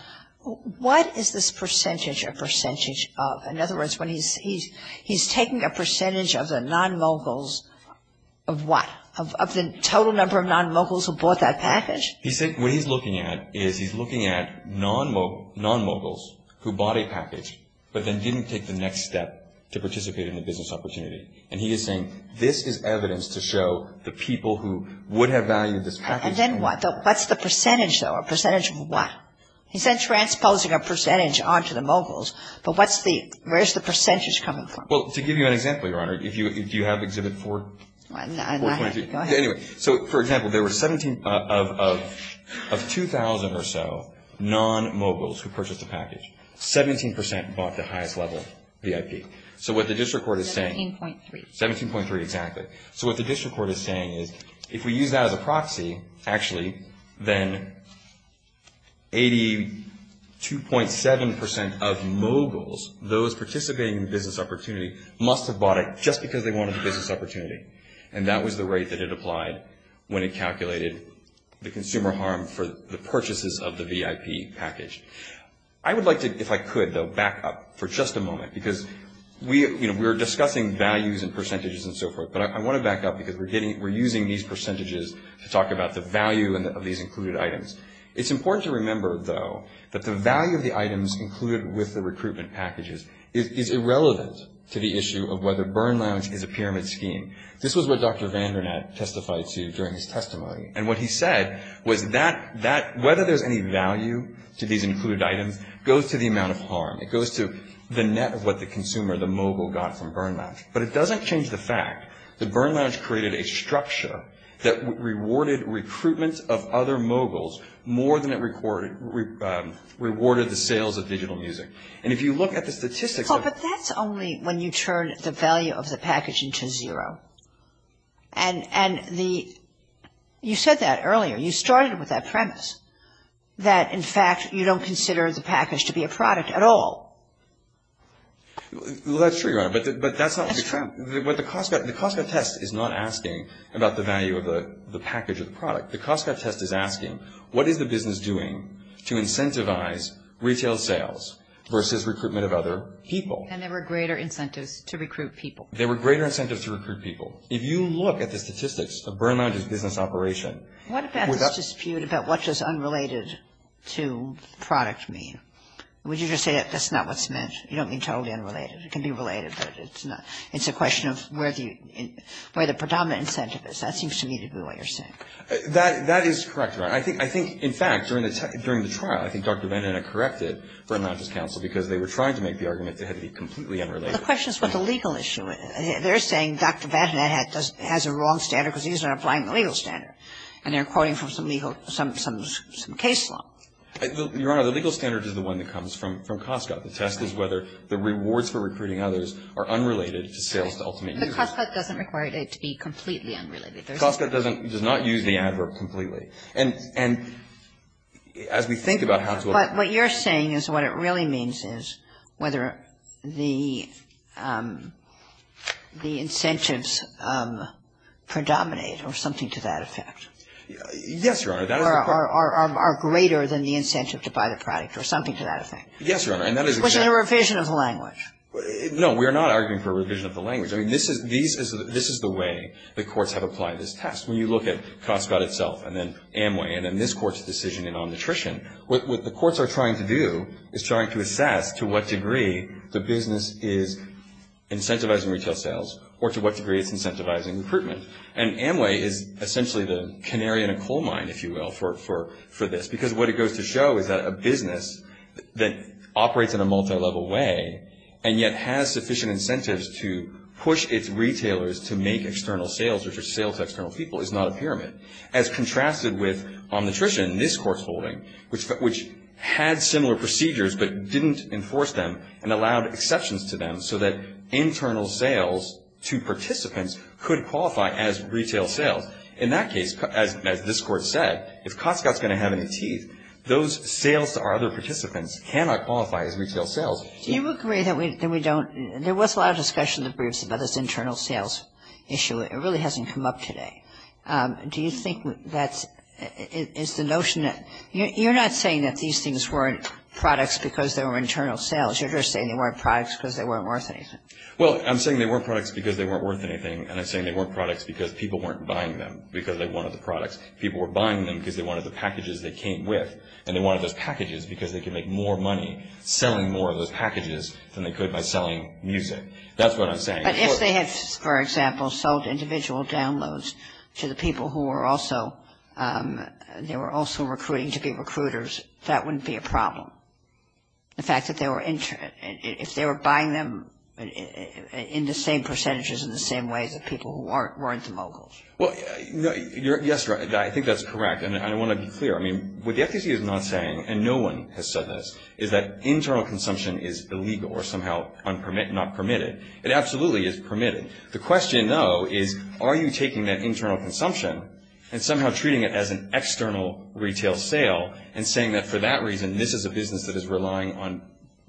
what is this percentage of percentage of? In other words, he's taking a percentage of the non-moguls of what? Of the total number of non-moguls who bought that package? He said what he's looking at is he's looking at non-moguls who bought a package but then didn't take the next step to participate in the business opportunity. And he is saying this is evidence to show the people who would have valued this package. And then what? What's the percentage, though? A percentage of what? He said transposing a percentage onto the moguls. But what's the, where's the percentage coming from? Well, to give you an example, Your Honor, if you have Exhibit 4. Go ahead. So, for example, there were 17 of 2,000 or so non-moguls who purchased the package. Seventeen percent bought the highest level VIP. So, what the district court is saying. 17.3. 17.3, exactly. So, what the district court is saying is if we use that as a proxy, actually, then 82.7% of moguls, those participating in the business opportunity must have bought it just because they wanted the business opportunity. And that was the rate that it applied when it calculated the consumer harm for the purchases of the VIP package. I would like to, if I could, though, back up for just a moment because we're discussing values and percentages and so forth. But I want to back up because we're using these percentages to talk about the value of these included items. It's important to remember, though, that the value of the items included with the recruitment packages is irrelevant to the issue of whether Burn Lounge is a pyramid scheme. This was what Dr. Vandernat testified to during his testimony. And what he said was whether there's any value to these included items goes to the amount of harm. It goes to the net of what the consumer, the mogul, got from Burn Lounge. But it doesn't change the fact that Burn Lounge created a structure that rewarded recruitment of other moguls more than it rewarded the sales of digital music. And if you look at the statistics... But that's only when you turn the value of the package into zero. And you said that earlier. You started with that premise that, in fact, you don't consider the package to be a product at all. Well, that's true, Your Honor. But that's not... The Cost Cut Test is not asking about the value of the package as a product. The Cost Cut Test is asking what is a business doing to incentivize retail sales versus recruitment of other people? And there were greater incentives to recruit people. There were greater incentives to recruit people. If you look at the statistics of Burn Lounge's business operation... What does that dispute about what's just unrelated to product mean? Would you say that's not what's meant? You don't mean totally unrelated. It can be related, but it's a question of where the predominant incentive is. That seems to me to be what you're saying. That is correct, Your Honor. I think, in fact, during the trial, I think Dr. Van Hennet corrected Burn Lounge's counsel because they were trying to make the argument that it had to be completely unrelated. The question is about the legal issue. They're saying Dr. Van Hennet has a wrong standard because he isn't applying the legal standard. And they're quoting from some legal... some case law. Your Honor, the legal standard is the one that comes from Cost Cut. The test is whether the rewards for recruiting others are unrelated to sales ultimate use. But Cost Cut doesn't require it to be completely unrelated. Cost Cut does not use the adverb completely. And as we think about how to... But what you're saying is what it really means is whether the incentives predominate or something to that effect. Yes, Your Honor. Or are greater than the incentive to buy the product or something to that effect. Yes, Your Honor. Which is a revision of the language. No, we're not arguing for a revision of the language. This is the way the courts have applied this test. When you look at Cost Cut itself and then Amway and then this court's decision in on nutrition, what the courts are trying to do is trying to assess to what degree the business is incentivizing retail sales or to what degree it's incentivizing recruitment. And Amway is essentially the canary in a coal mine, if you will, for this. Because what it goes to show is that a business that operates in a multilevel way and yet has sufficient incentives to push its retailers to make external sales or to sell to external people is not a pyramid. As contrasted with on nutrition, this court's holding, which had similar procedures but didn't enforce them and allowed exceptions to them so that internal sales to participants could qualify as retail sales. In that case, as this court said, if Cost Cut's going to have any teeth, those sales to our other participants cannot qualify as retail sales. Do you agree that we don't... There was a lot of discussion in the briefs about this internal sales issue. It really hasn't come up today. Do you think that it's the notion that... You're not saying that these things weren't products because they were internal sales. You're just saying they weren't products because they weren't worth anything. Well, I'm saying they weren't products because they weren't worth anything and I'm saying they weren't products because people weren't buying them because they wanted the products. People were buying them because they wanted the packages they came with and they wanted those packages because they could make more money selling more of those packages than they could by selling music. That's what I'm saying. But if they had, for example, sold individual downloads to the people who were also... they were also recruiting to be recruiters, that wouldn't be a problem. The fact that they were... If they were buying them in the same percentages in the same way that people who weren't the moguls. Well, yes, I think that's correct and I want to be clear. I mean, what the FTC is not saying and no one has said this, is that internal consumption is illegal or somehow not permitted. It absolutely is permitted. The question, though, is are you taking that internal consumption and somehow treating it as an external retail sale and saying that for that reason this is a business that is relying on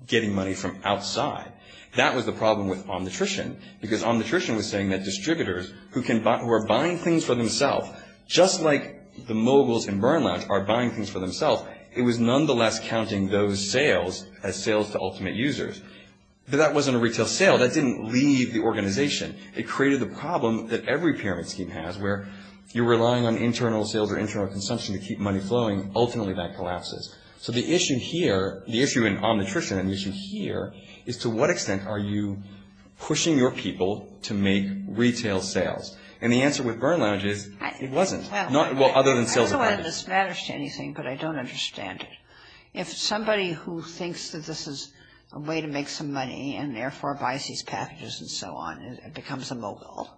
getting money from outside. That was the problem with Omnitrition because Omnitrition was saying that distributors who are buying things for themselves, just like the moguls in Burnlabs are buying things for themselves, it was nonetheless counting those sales as sales to ultimate users. But that wasn't a retail sale. That didn't leave the organization. It created a problem that every pyramid scheme has where you're relying on internal sales or internal consumption to keep money flowing. Ultimately, that collapses. So the issue here, the issue in Omnitrition and the issue here, is to what extent are you pushing your people to make retail sales? And the answer with Burnlabs is it wasn't. Well, other than sales. I don't understand anything, but I don't understand it. If somebody who thinks that this is a way to make some money and therefore buys these packages and so on becomes a mogul,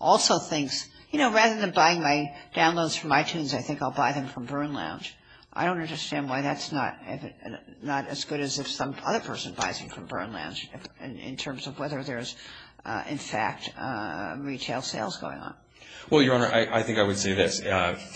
also thinks, you know, rather than buying my downloads from iTunes, I think I'll buy them from Burnlabs. I don't understand why that's not as good as if some other person buys them from Burnlabs in terms of whether there's, in fact, retail sales going on. Well, Your Honor, I think I would say this.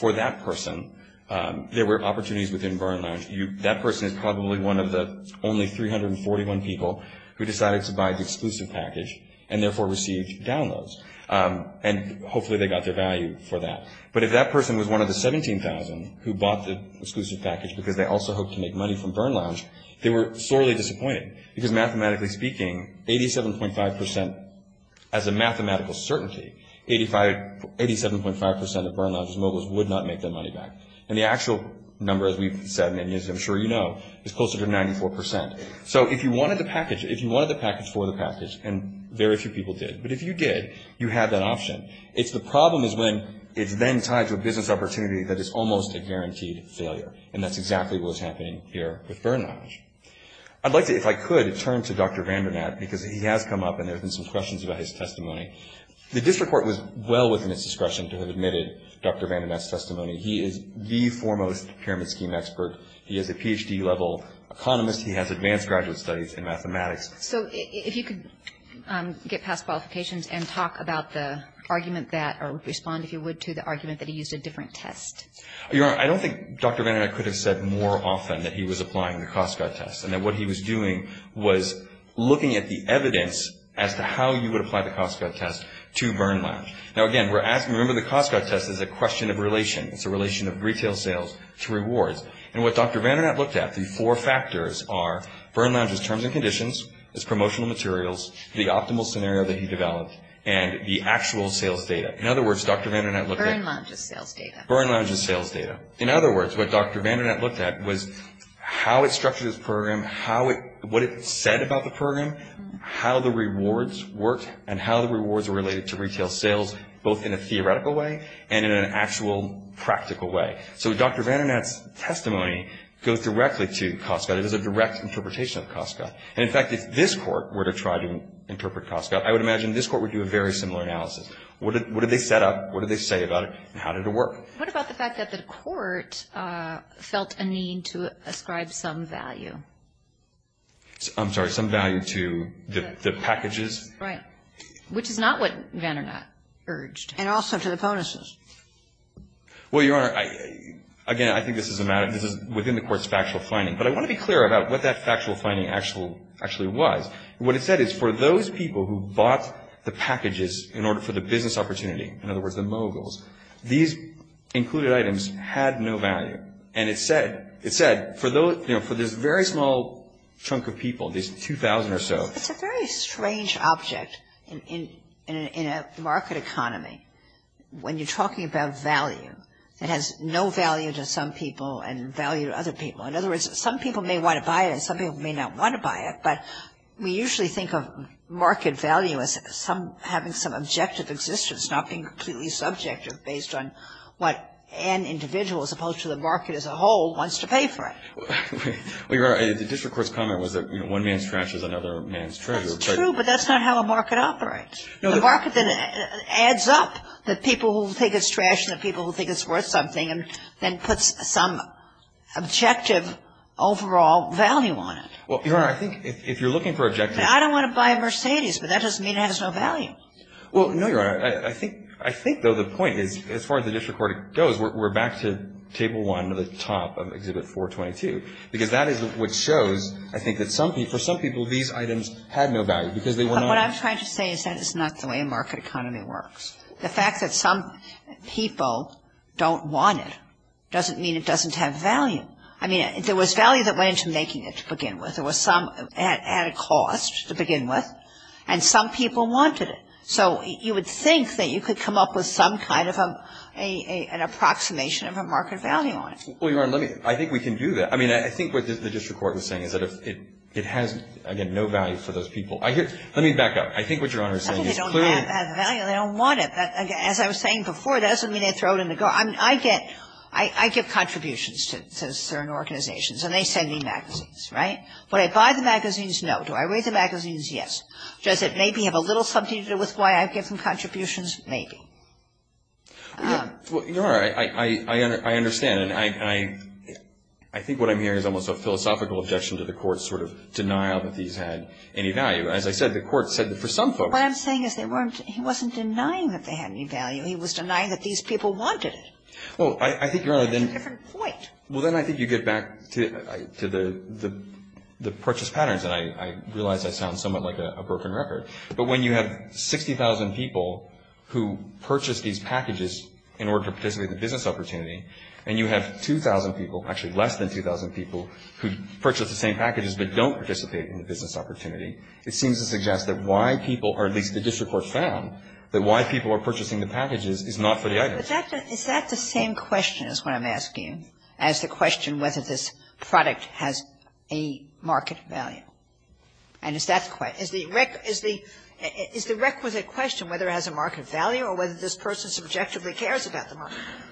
For that person, there were opportunities within Burnlabs. That person is probably one of the only 341 people who decided to buy the exclusive package and therefore received downloads, and hopefully they got their value for that. But if that person was one of the 17,000 who bought the exclusive package because they also hoped to make money from Burnlabs, they were sorely disappointed because mathematically speaking, 87.5% as a mathematical certainty, 87.5% of Burnlabs moguls would not make their money back. And the actual number, as we've said, and I'm sure you know, is closer to 94%. So, if you wanted the package, if you wanted the package for the package, and very few people did, but if you did, you have that option. If the problem is when it's then tied to a business opportunity, that is almost a guaranteed failure, and that's exactly what was happening there with Burnlabs. I'd like to, if I could, turn to Dr. Vandernat because he has come up and there have been some questions about his testimony. The district court was well within its discretion to have admitted Dr. Vandernat's testimony. He is the foremost pyramid scheme expert. He is a Ph.D. level economist. He has advanced graduate studies in mathematics. So, if you could get past qualifications and talk about the argument that, or respond if you would to the argument that he used a different test. Your Honor, I don't think Dr. Vandernat could have said more often that he was applying the Costco test and that what he was doing was looking at the evidence as to how you would apply the Costco test to Burnlabs. Now, again, remember the Costco test is a question of relation. It's a relation of retail sales to rewards. And what Dr. Vandernat looked at, the four factors are Burnlabs' terms and conditions, his promotional materials, the optimal scenario that he developed, and the actual sales data. In other words, Dr. Vandernat looked at... Burnlabs' sales data. Burnlabs' sales data. In other words, what Dr. Vandernat looked at was how it structured his program, what it said about the program, how the rewards work, and how the rewards are related to retail sales both in a theoretical way and in an actual practical way. So Dr. Vandernat's testimony goes directly to Costco. It is a direct interpretation of Costco. And, in fact, if this Court were to try to interpret Costco, I would imagine this Court would do a very similar analysis. What did they set up? What did they say about it? And how did it work? What about the fact that the Court felt a need to ascribe some value? I'm sorry, some value to the packages? Right. Which is not what Vandernat urged. And also for the bonuses. Well, Your Honor, again, I think this is a matter within the Court's factual finding. But I want to be clear about what that factual finding actually was. What it said is for those people who bought the packages in order for the business opportunity, in other words, the moguls, these included items had no value. And it said for this very small chunk of people, these 2,000 or so... It's a very strange object in a market economy when you're talking about value. It has no value to some people and value to other people. In other words, some people may want to buy it and some people may not want to buy it. But we usually think of market value as having some objective existence, not being completely subjective based on what an individual, as opposed to the market as a whole, wants to pay for it. Well, Your Honor, the District Court's comment was that one man's trash is another man's treasure. True, but that's not how a market operates. The market adds up the people who think it's trash and the people who think it's worth something and puts some objective overall value on it. Well, Your Honor, I think if you're looking for objective... I don't want to buy a Mercedes, but that doesn't mean it has no value. Well, no, Your Honor. I think, though, the point is, as far as the District Court goes, we're back to Table 1 at the top of Exhibit 422, because that is what shows, I think, that for some people these items had no value because they were not... What I'm trying to say is that is not the way a market economy works. The fact that some people don't want it doesn't mean it doesn't have value. I mean, there was value that went into making it to begin with. There was some added cost to begin with, and some people wanted it. So you would think that you could come up with some kind of an approximation of a market value on it. Well, Your Honor, I think we can do that. I mean, I think what the District Court was saying is that it has, again, no value for those people. Let me back up. I think what Your Honor is saying is clearly... They don't want it. As I was saying before, that doesn't mean they throw it in the garbage. I get contributions to certain organizations, and they send me magazines, right? Would I buy the magazines? No. Do I read the magazines? Yes. Does it maybe have a little something to do with why I've given contributions? Maybe. Well, Your Honor, I understand. I think what I'm hearing is almost a philosophical objection to the Court's sort of denial that these had any value. As I said, the Court said that for some folks... What I'm saying is he wasn't denying that they had any value. He was denying that these people wanted it. Well, I think, Your Honor, then... It's a different point. Well, then I think you get back to the purchase patterns, and I realize that sounds somewhat like a broken record. But when you have 60,000 people who purchase these packages in order to participate in the business opportunity, and you have 2,000 people, actually less than 2,000 people, who purchase the same packages, but don't participate in the business opportunity, it seems to suggest that why people, or at least the District Court found, that why people are purchasing the packages is not for the item. Is that the same question is what I'm asking? I'm asking you as a question whether this product has a market value. And is that the question? Is the requisite question whether it has a market value or whether this person subjectively cares about the market value?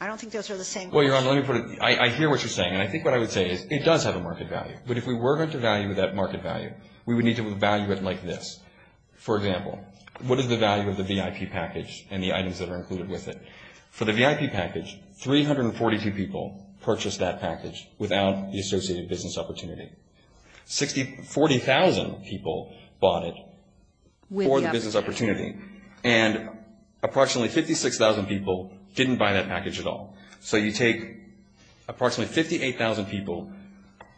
I don't think those are the same questions. Well, Your Honor, let me put it... I hear what you're saying, and I think what I would say is it does have a market value. But if we were going to value that market value, we would need to value it like this. For example, what is the value of the VIP package and the items that are included with it? For the VIP package, 342 people purchased that package without the associated business opportunity. 40,000 people bought it for the business opportunity. And approximately 56,000 people didn't buy that package at all. So you take approximately 58,000 people,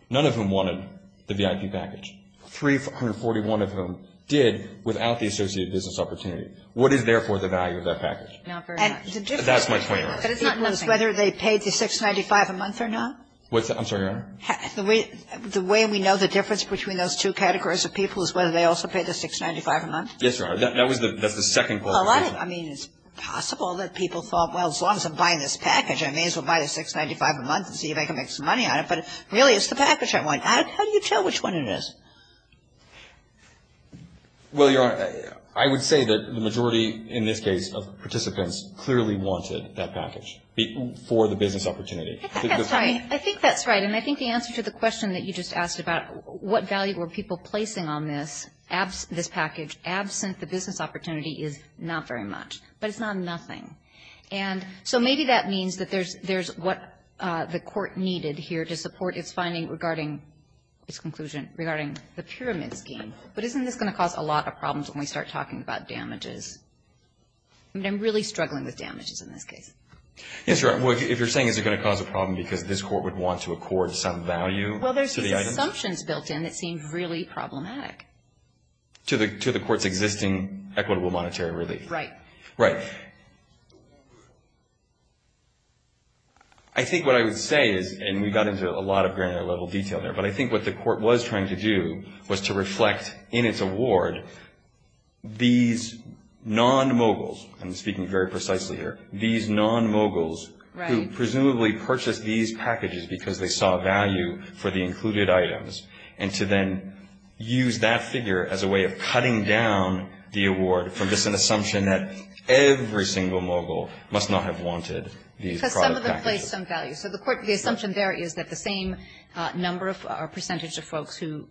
none of whom wanted the VIP package. 341 of them did without the associated business opportunity. What is, therefore, the value of that package? Not very much. That's my point. But it's whether they paid the $6.95 a month or not. I'm sorry, Your Honor? The way we know the difference between those two categories of people is whether they also paid the $6.95 a month. Yes, Your Honor. That was the second point. I mean, it's possible that people thought, well, as long as I'm buying this package, I may as well buy the $6.95 a month and see if I can make some money out of it. But really, it's the package I want. How do you tell which one it is? Well, Your Honor, I would say that the majority, in this case, of participants clearly wanted that package for the business opportunity. I think that's right. And I think the answer to the question that you just asked about what value were people placing on this package, absent the business opportunity is not very much. But it's not nothing. And so maybe that means that there's what the court needed here to support its finding regarding its conclusion regarding the pyramid scheme. But isn't this going to cause a lot of problems when we start talking about damages? I mean, I'm really struggling with damages in this case. Yes, Your Honor. If you're saying it's going to cause a problem because this court would want to accord some value to the item. Well, there's some assumptions built in that seem really problematic. To the court's existing equitable monetary relief. Right. Right. I think what I would say, and we got into a lot of granular level detail there, but I think what the court was trying to do was to reflect in its award these non-moguls, I'm speaking very precisely here, these non-moguls who presumably purchased these packages because they saw value for the included items, and to then use that figure as a way of cutting down the award from just an assumption that every single mogul must not have wanted these products. Because some of them placed some value. So the assumption there is that the same number or percentage of folks who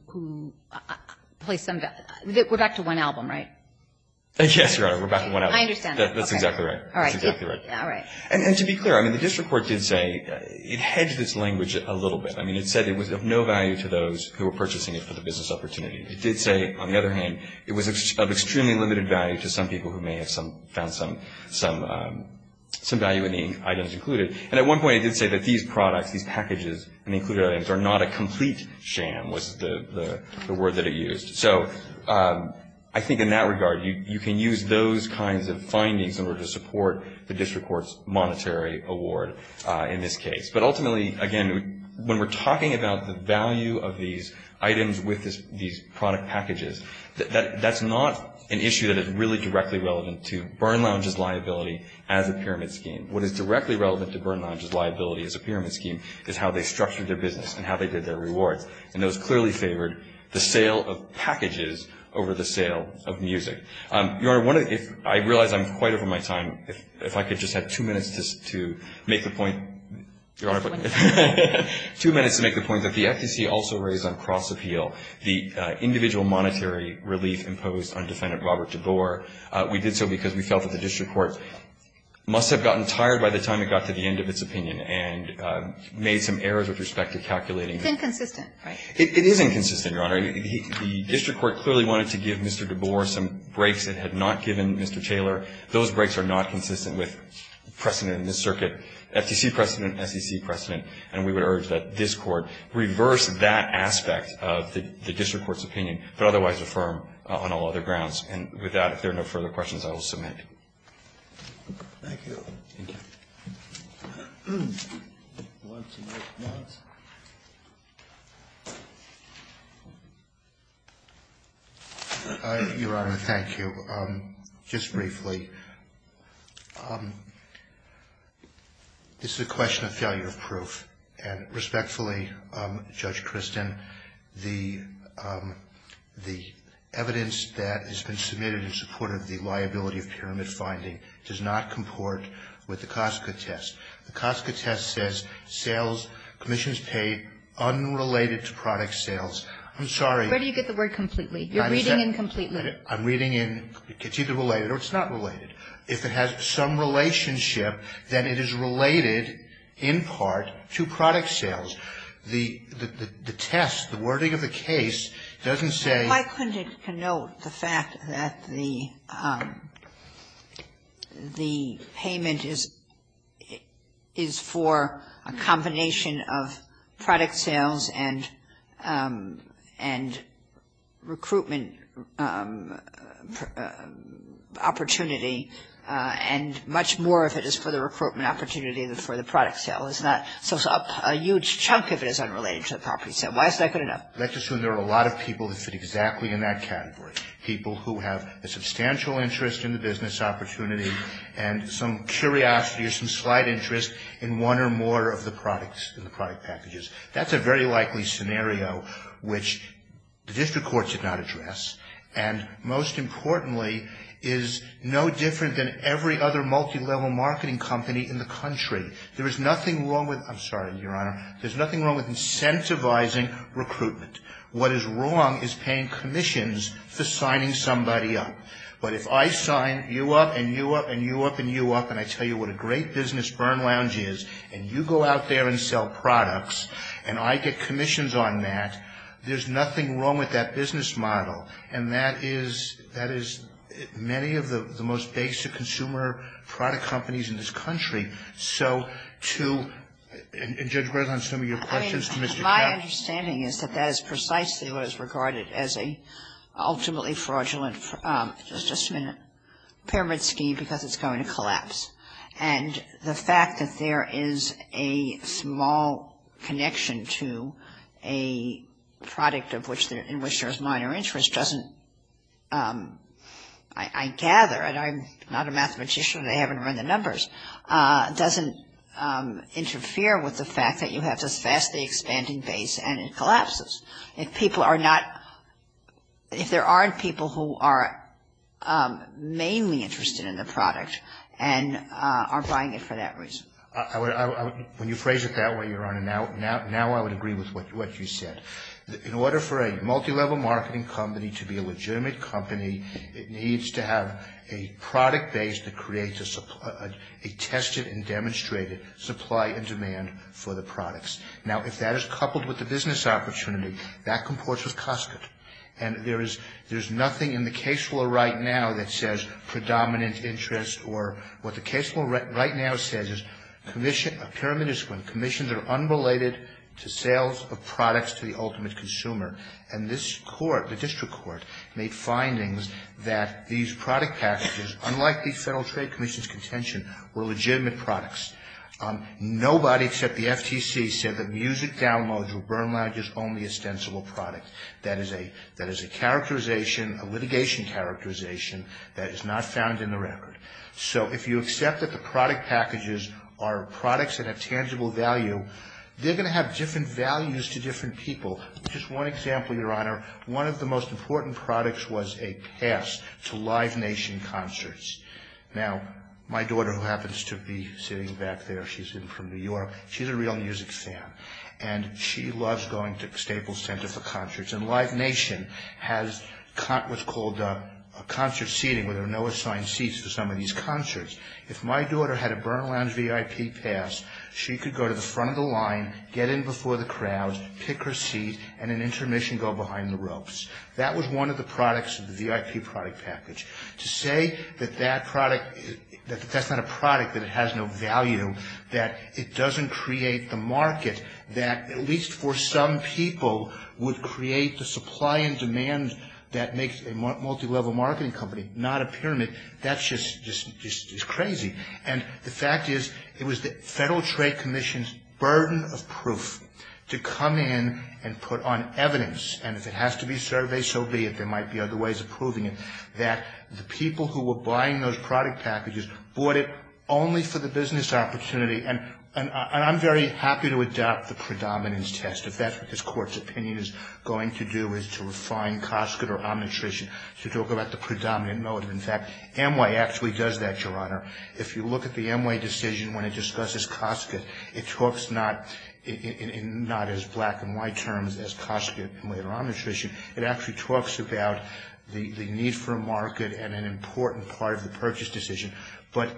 placed some value. We're back to one album, right? Yes, Your Honor. We're back to one album. I understand. That's exactly right. All right. And to be clear, I mean, the district court did say it hedged its language a little bit. I mean, it said it was of no value to those who were purchasing it for the business opportunity. It did say, on the other hand, it was of extremely limited value to some people who may have found some value in the items included. And at one point it did say that these products, these packages and included items are not a complete sham was the word that it used. So I think in that regard, you can use those kinds of findings in order to support the district court's monetary award in this case. But ultimately, again, when we're talking about the value of these items with these product packages, that's not an issue that is really directly relevant to Byrne Lounge's liability as a pyramid scheme. What is directly relevant to Byrne Lounge's liability as a pyramid scheme is how they structured their business and how they did their reward. And those clearly favored the sale of packages over the sale of music. Your Honor, I realize I'm quite over my time. If I could just have two minutes to make a point. Two minutes to make a point. If the FTC also raised on cross-appeal the individual monetary relief imposed on Defendant Robert DeBoer, we did so because we felt that the district court must have gotten tired by the time it got to the end of its opinion and made some errors with respect to calculating. It's inconsistent. It is inconsistent, Your Honor. The district court clearly wanted to give Mr. DeBoer some breaks. It had not given Mr. Taylor. Those breaks are not consistent with precedent in this circuit. FTC precedent, FTC precedent. And we would urge that this court reverse that aspect of the district court's opinion, but otherwise affirm on all other grounds. And with that, if there are no further questions, I will submit. Thank you. Thank you. Your Honor, thank you. Just briefly, this is a question of failure of proof. And respectfully, Judge Christin, the evidence that has been submitted in support of the liability of pyramid finding does not comport with the COSCA test. The COSCA test says sales commissions paid unrelated to product sales. I'm sorry. Where do you get the word completely? You're reading in completely. I'm reading in. It's either related or it's not related. If it has some relationship, then it is related in part to product sales. The test, the wording of the case doesn't say. Why couldn't it denote the fact that the payment is for a combination of product sales and recruitment opportunity and much more if it is for the recruitment opportunity than for the product sale? It's not a huge chunk if it is unrelated to the property sale. Why is that good enough? Let's assume there are a lot of people that fit exactly in that category, people who have a substantial interest in the business opportunity and some curiosity or some slight interest in one or more of the products in the product packages. That's a very likely scenario which the district court did not address and, most importantly, is no different than every other multilevel marketing company in the country. There is nothing wrong with I'm sorry, Your Honor. There's nothing wrong with incentivizing recruitment. What is wrong is paying commissions to signing somebody up. But if I sign you up and you up and you up and you up and I tell you what a great business Burn Lounge is and you go out there and sell products and I get commissions on that, there's nothing wrong with that business model and that is many of the most basic consumer product companies in this country. So, to, and Judge Gross on some of your questions. My understanding is that that is precisely what is regarded as an ultimately fraudulent pyramid scheme because it's going to collapse and the fact that there is a small connection to a product in which there is minor interest doesn't, I gather, and I'm not a mathematician and I haven't run the numbers, doesn't interfere with the fact that you have this vastly expanding base and it collapses. If people are not, if there aren't people who are mainly interested in the product and are buying it for that reason. When you phrase it that way, Your Honor, now I would agree with what you said. In order for a multilevel marketing company to be a legitimate company, it needs to have a product base that creates a supply, a tested and demonstrated supply and demand for the products. Now, if that is coupled with the business opportunity, that comports with Costco and there is nothing in the case law right now that says predominant interest or what the case law right now says is commission, a pyramid is when commissions are unrelated to sales of products to the ultimate consumer and this court, the district court, made findings that these product packages, unlike these Federal Trade Commission's contention, were legitimate products. Nobody except the FTC said that music downloads or burn lounges are only ostensible products. That is a characterization, a litigation characterization that is not found in the record. So, if you accept that the product packages are products at a tangible value, they're going to have different values to different people. Just one example, Your Honor, one of the most important products was a pass to Live Nation Concerts. Now, my daughter who happens to be sitting back there, she's from New York, she's a real music fan and she loves going to Staples Center for Concerts and Live Nation has what's called a concert seating where there are no assigned seats for some of these concerts. If my daughter had a burn lounge VIP pass, she could go to the front of the line, get in before the crowds, pick her seat and an intermission go behind the ropes. That was one of the products of the VIP product package. To say that that product, that that's not a product, that it has no value, that it doesn't create the market, that at least for some people would create the supply and demand that makes a multi-level marketing company not a pyramid, that's just crazy. And the fact is, it was the Federal Trade Commission's burden of proof to come in and put on evidence, and if it has to be surveyed, so be it, there might be other ways of proving it, that the people who were buying those product packages bought it only for the business opportunity and I'm very happy to adopt the predominance test, if that's what this court's opinion is going to do is to refine COSCID or Omnitrition to talk about the predominant motive. In fact, NY actually does that, Your Honor. If you look at the NY decision when it discusses COSCID, it talks not in not as black and white terms as COSCID or Omnitrition, it actually talks about the need for a market and an important part of the purchase decision, but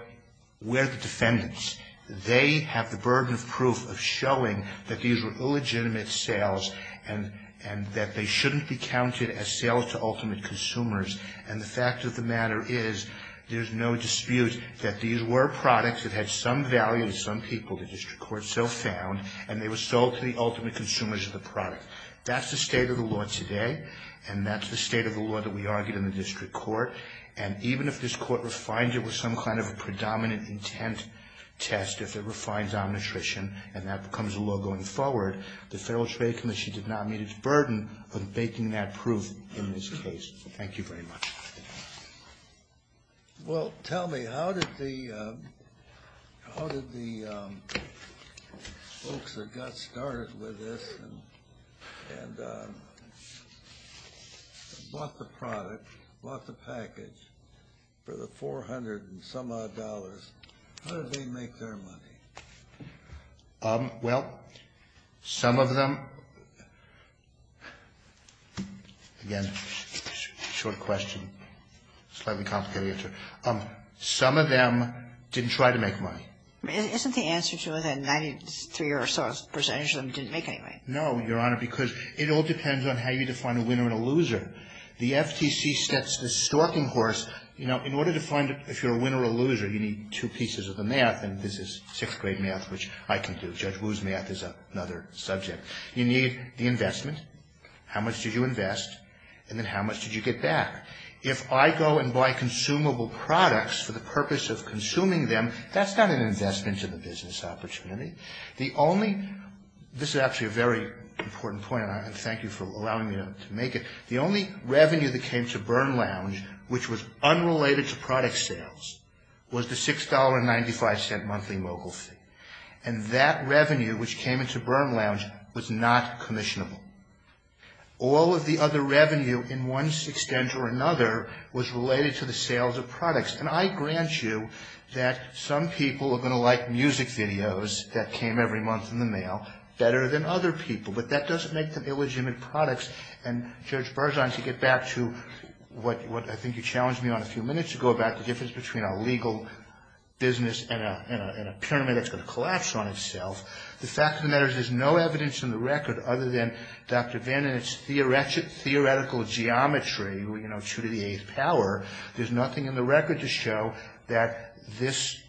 we're the defendants. They have the burden of proof of showing that these were illegitimate sales and that they shouldn't be counted as sales to ultimate consumers, and the fact of the matter is, there's no dispute that these were products that had some value to some people that this court so found, and they were sold to the ultimate consumers of the product. That's the state of the law today, and that's the state of the law that we argue in the district court, and even if this court refines it with some kind of predominant intent test, if it refines Omnitrition and that becomes a law going forward, the Federalist Faith Commission does not meet its burden of making that proof in this case. Thank you very much. Well, tell me, how did the folks that got started with this and bought the product, bought the package for the $400 and some odd dollars, how did they make their money? Well, some of them, again, short question, slightly complicated answer. Some of them didn't try to make money. Isn't the answer to that 93 or so percentage of them didn't make any money? No, Your Honor, because it all depends on how you define a winner and a loser. The FTC sets the stalking horse, you know, in order to find if you're a winner or a loser, you need two pieces of the map, and this is sixth grade math, which I can do. Judge Wu's math is another subject. You need the investment. How much did you invest, and then how much did you get back? If I go and buy consumable products for the purpose of consuming them, that's not an investment in the business opportunity. The only, this is actually a very important point, and I want to thank you for allowing me to make it, the only revenue that came to Byrne Lounge, which was unrelated to product sales, was the $6.95 monthly mobile fee, and that revenue, which came into Byrne Lounge, was not commissionable. All of the other revenue in one extent or another was related to the sales of products, and I grant you that some people are going to like music videos that came every month in the mail better than other people, but that doesn't make them illegitimate products, and Judge Barzahn, to get back to what I think you challenged me on a few minutes ago about the difference between a legal business and a pyramid that's going to collapse on itself, the fact of the matter is there's no evidence in the record other than Dr. Vannen's theoretical geometry, you know, true to the eighth power, there's nothing in the record to show that this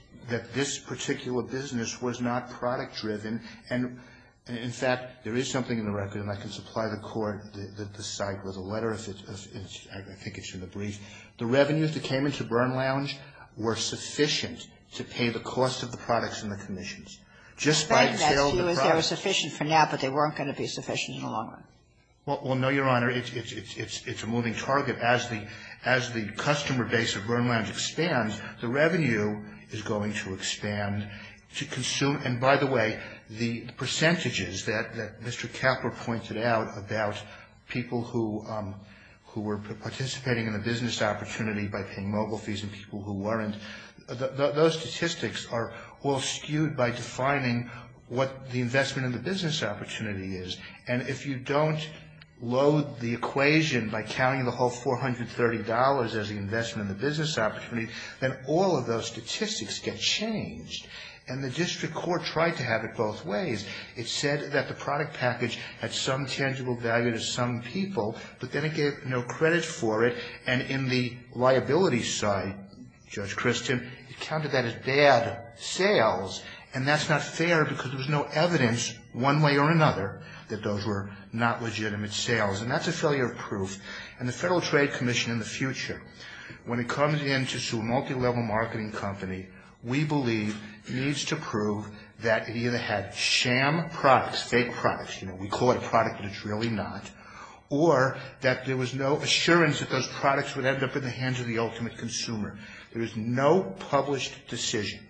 particular business was not product-driven, and, in fact, there is something in the record, and I can supply the court with a letter if I think it should be briefed. The revenue that came into Byrne Lounge were sufficient to pay the cost of the products and the commissions. Just by the sale of the products. Right. They were sufficient for now, but they weren't going to be sufficient longer. Well, no, Your Honor. It's a moving target. As the customer base of Byrne Lounge expands, the revenue is going to expand. And, by the way, the percentages that Mr. Kapler pointed out about people who were participating in a business opportunity by paying mobile fees and people who weren't, those statistics are all skewed by defining what the investment in the business opportunity is, and if you don't load the equation by counting the whole $430 as the investment in the business opportunity, then all of those statistics get changed. And the district court tried to have it both ways. It said that the product package had some tangible value to some people, but then it gave no credit for it, and in the liability side, Judge Christian, he counted that as bad sales, and that's not fair because there's no evidence, one way or another, that those were not legitimate sales. And that's a failure of proof. And the Federal Trade Commission in the future, when it comes in to sue a multilevel marketing company, we believe needs to prove that it either had sham products, fake products, you know, we call it a product, but it's really not, or that there was no assurance that those products would end up in the hands of the ultimate consumer. There is no published decision,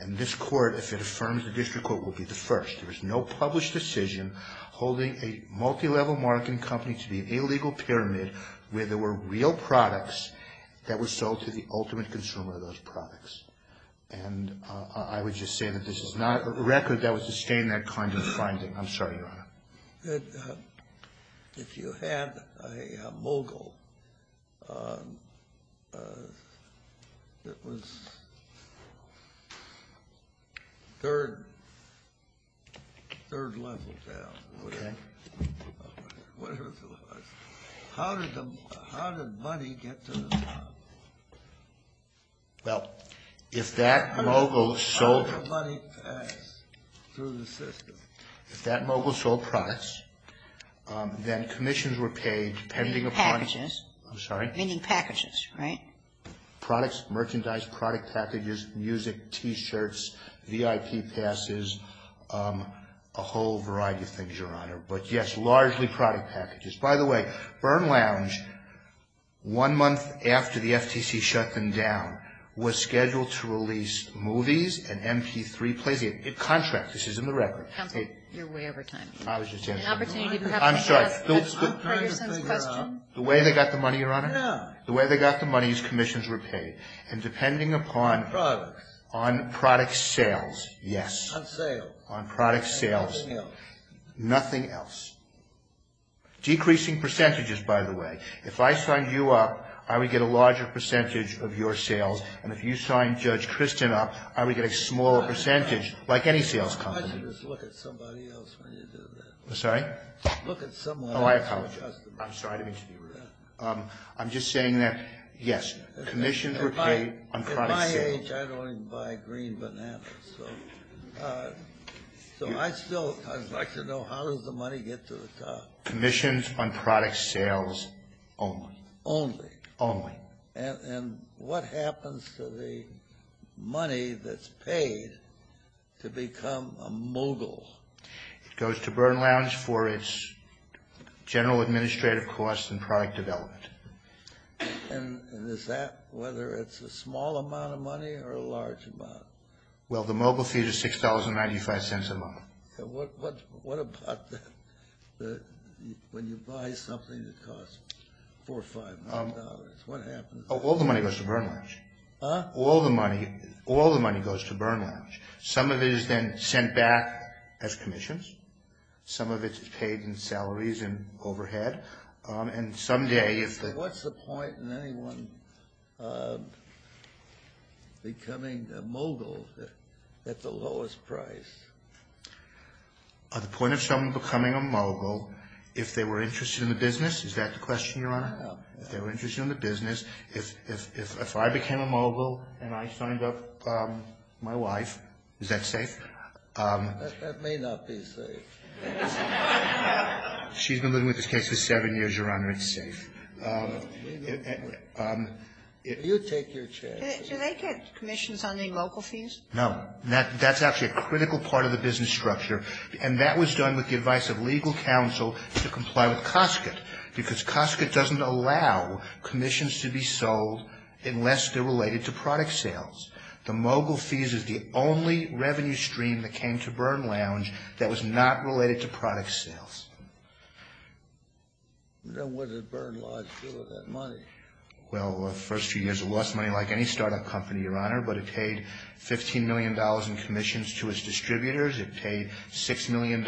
and this court, if it affirms the district court, will be the first. There is no published decision holding a multilevel marketing company to the illegal pyramid where there were real products that were sold to the ultimate consumer of those products. And I would just say that this is not a record that would sustain that kind of finding. I'm sorry, Your Honor. If you had a mogul that was third level down, how did money get to the mogul? Well, if that mogul sold products, then commissions were paid pending upon- Packages. I'm sorry? Pending packages, right? Products, merchandise, product packages, music, T-shirts, VIP passes, a whole variety of things, Your Honor. But yes, largely product packages. By the way, Byrne Lounge, one month after the FTC shut them down, was scheduled to release movies and MP3 plays. Contracts. This is in the record. You're way over time. I was just answering. I'm sorry. The way they got the money, Your Honor? The way they got the money is commissions were paid. And depending upon- Products. On product sales, yes. On sales. On product sales. And nothing else. Nothing else. Decreasing percentages, by the way. If I signed you up, I would get a larger percentage of your sales. And if you signed Judge Kristen up, I would get a smaller percentage, like any sales company. Why don't you just look at somebody else when you do that? I'm sorry? Look at someone else. Oh, I apologize. I'm sorry. I didn't mean to do that. I'm just saying that, yes, commissions were paid on product sales. At my age, I'd only buy green bananas. So I'd like to know, how does the money get to the top? Commissions on product sales only. Only. Only. And what happens to the money that's paid to become a mogul? It goes to Byrne Lounge for its general administrative costs and product development. And is that whether it's a small amount of money or a large amount? Well, the mogul fee is $6.95 a month. What about when you buy something that costs $4 or $5 million? What happens? All the money goes to Byrne Lounge. All the money goes to Byrne Lounge. Some of it is then sent back as commissions. Some of it is paid in salaries and overhead. So what's the point in anyone becoming a mogul at the lowest price? The point of someone becoming a mogul, if they were interested in the business? Is that the question, Your Honor? If they were interested in the business. If I became a mogul and I signed up my wife, is that safe? That may not be safe. She's been living with this case for seven years, Your Honor. It's safe. If you take your chance. Do they get commissions on the local fees? No. That's actually a critical part of the business structure. And that was done with the advice of legal counsel to comply with COSCOT. Because COSCOT doesn't allow commissions to be sold unless they're related to product sales. The mogul fees is the only revenue stream that came to Byrne Lounge that was not related to product sales. Then what did Byrne Lounge do with that money? Well, the first few years it lost money like any startup company, Your Honor. But it paid $15 million in commissions to its distributors. It paid $6 million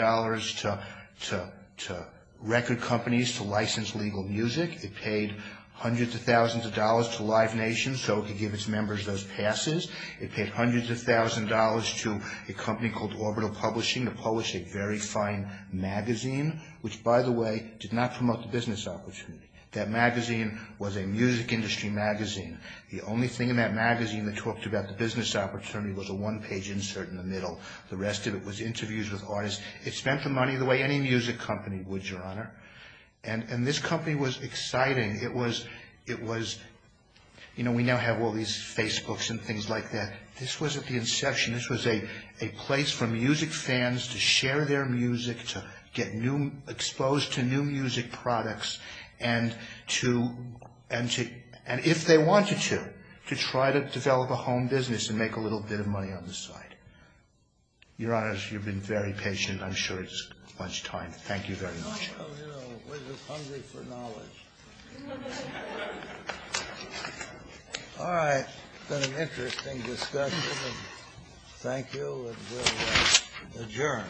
to record companies to license legal music. It paid hundreds of thousands of dollars to Live Nation so it could give its members those passes. It paid hundreds of thousands of dollars to a company called Orbital Publishing to publish a very fine magazine. Which, by the way, did not promote the business opportunity. That magazine was a music industry magazine. The only thing in that magazine that talked about the business opportunity was a one-page insert in the middle. The rest of it was interviews with artists. And this company was exciting. You know, we now have all these Facebooks and things like that. This was at the inception. This was a place for music fans to share their music, to get exposed to new music products. And if they wanted to, to try to develop a home business and make a little bit of money on the side. Your Honor, you've been very patient. I'm sure it's lunchtime. Thank you very much. Oh, no. We're just hungry for knowledge. All right. It's been an interesting discussion. Thank you. And we'll adjourn.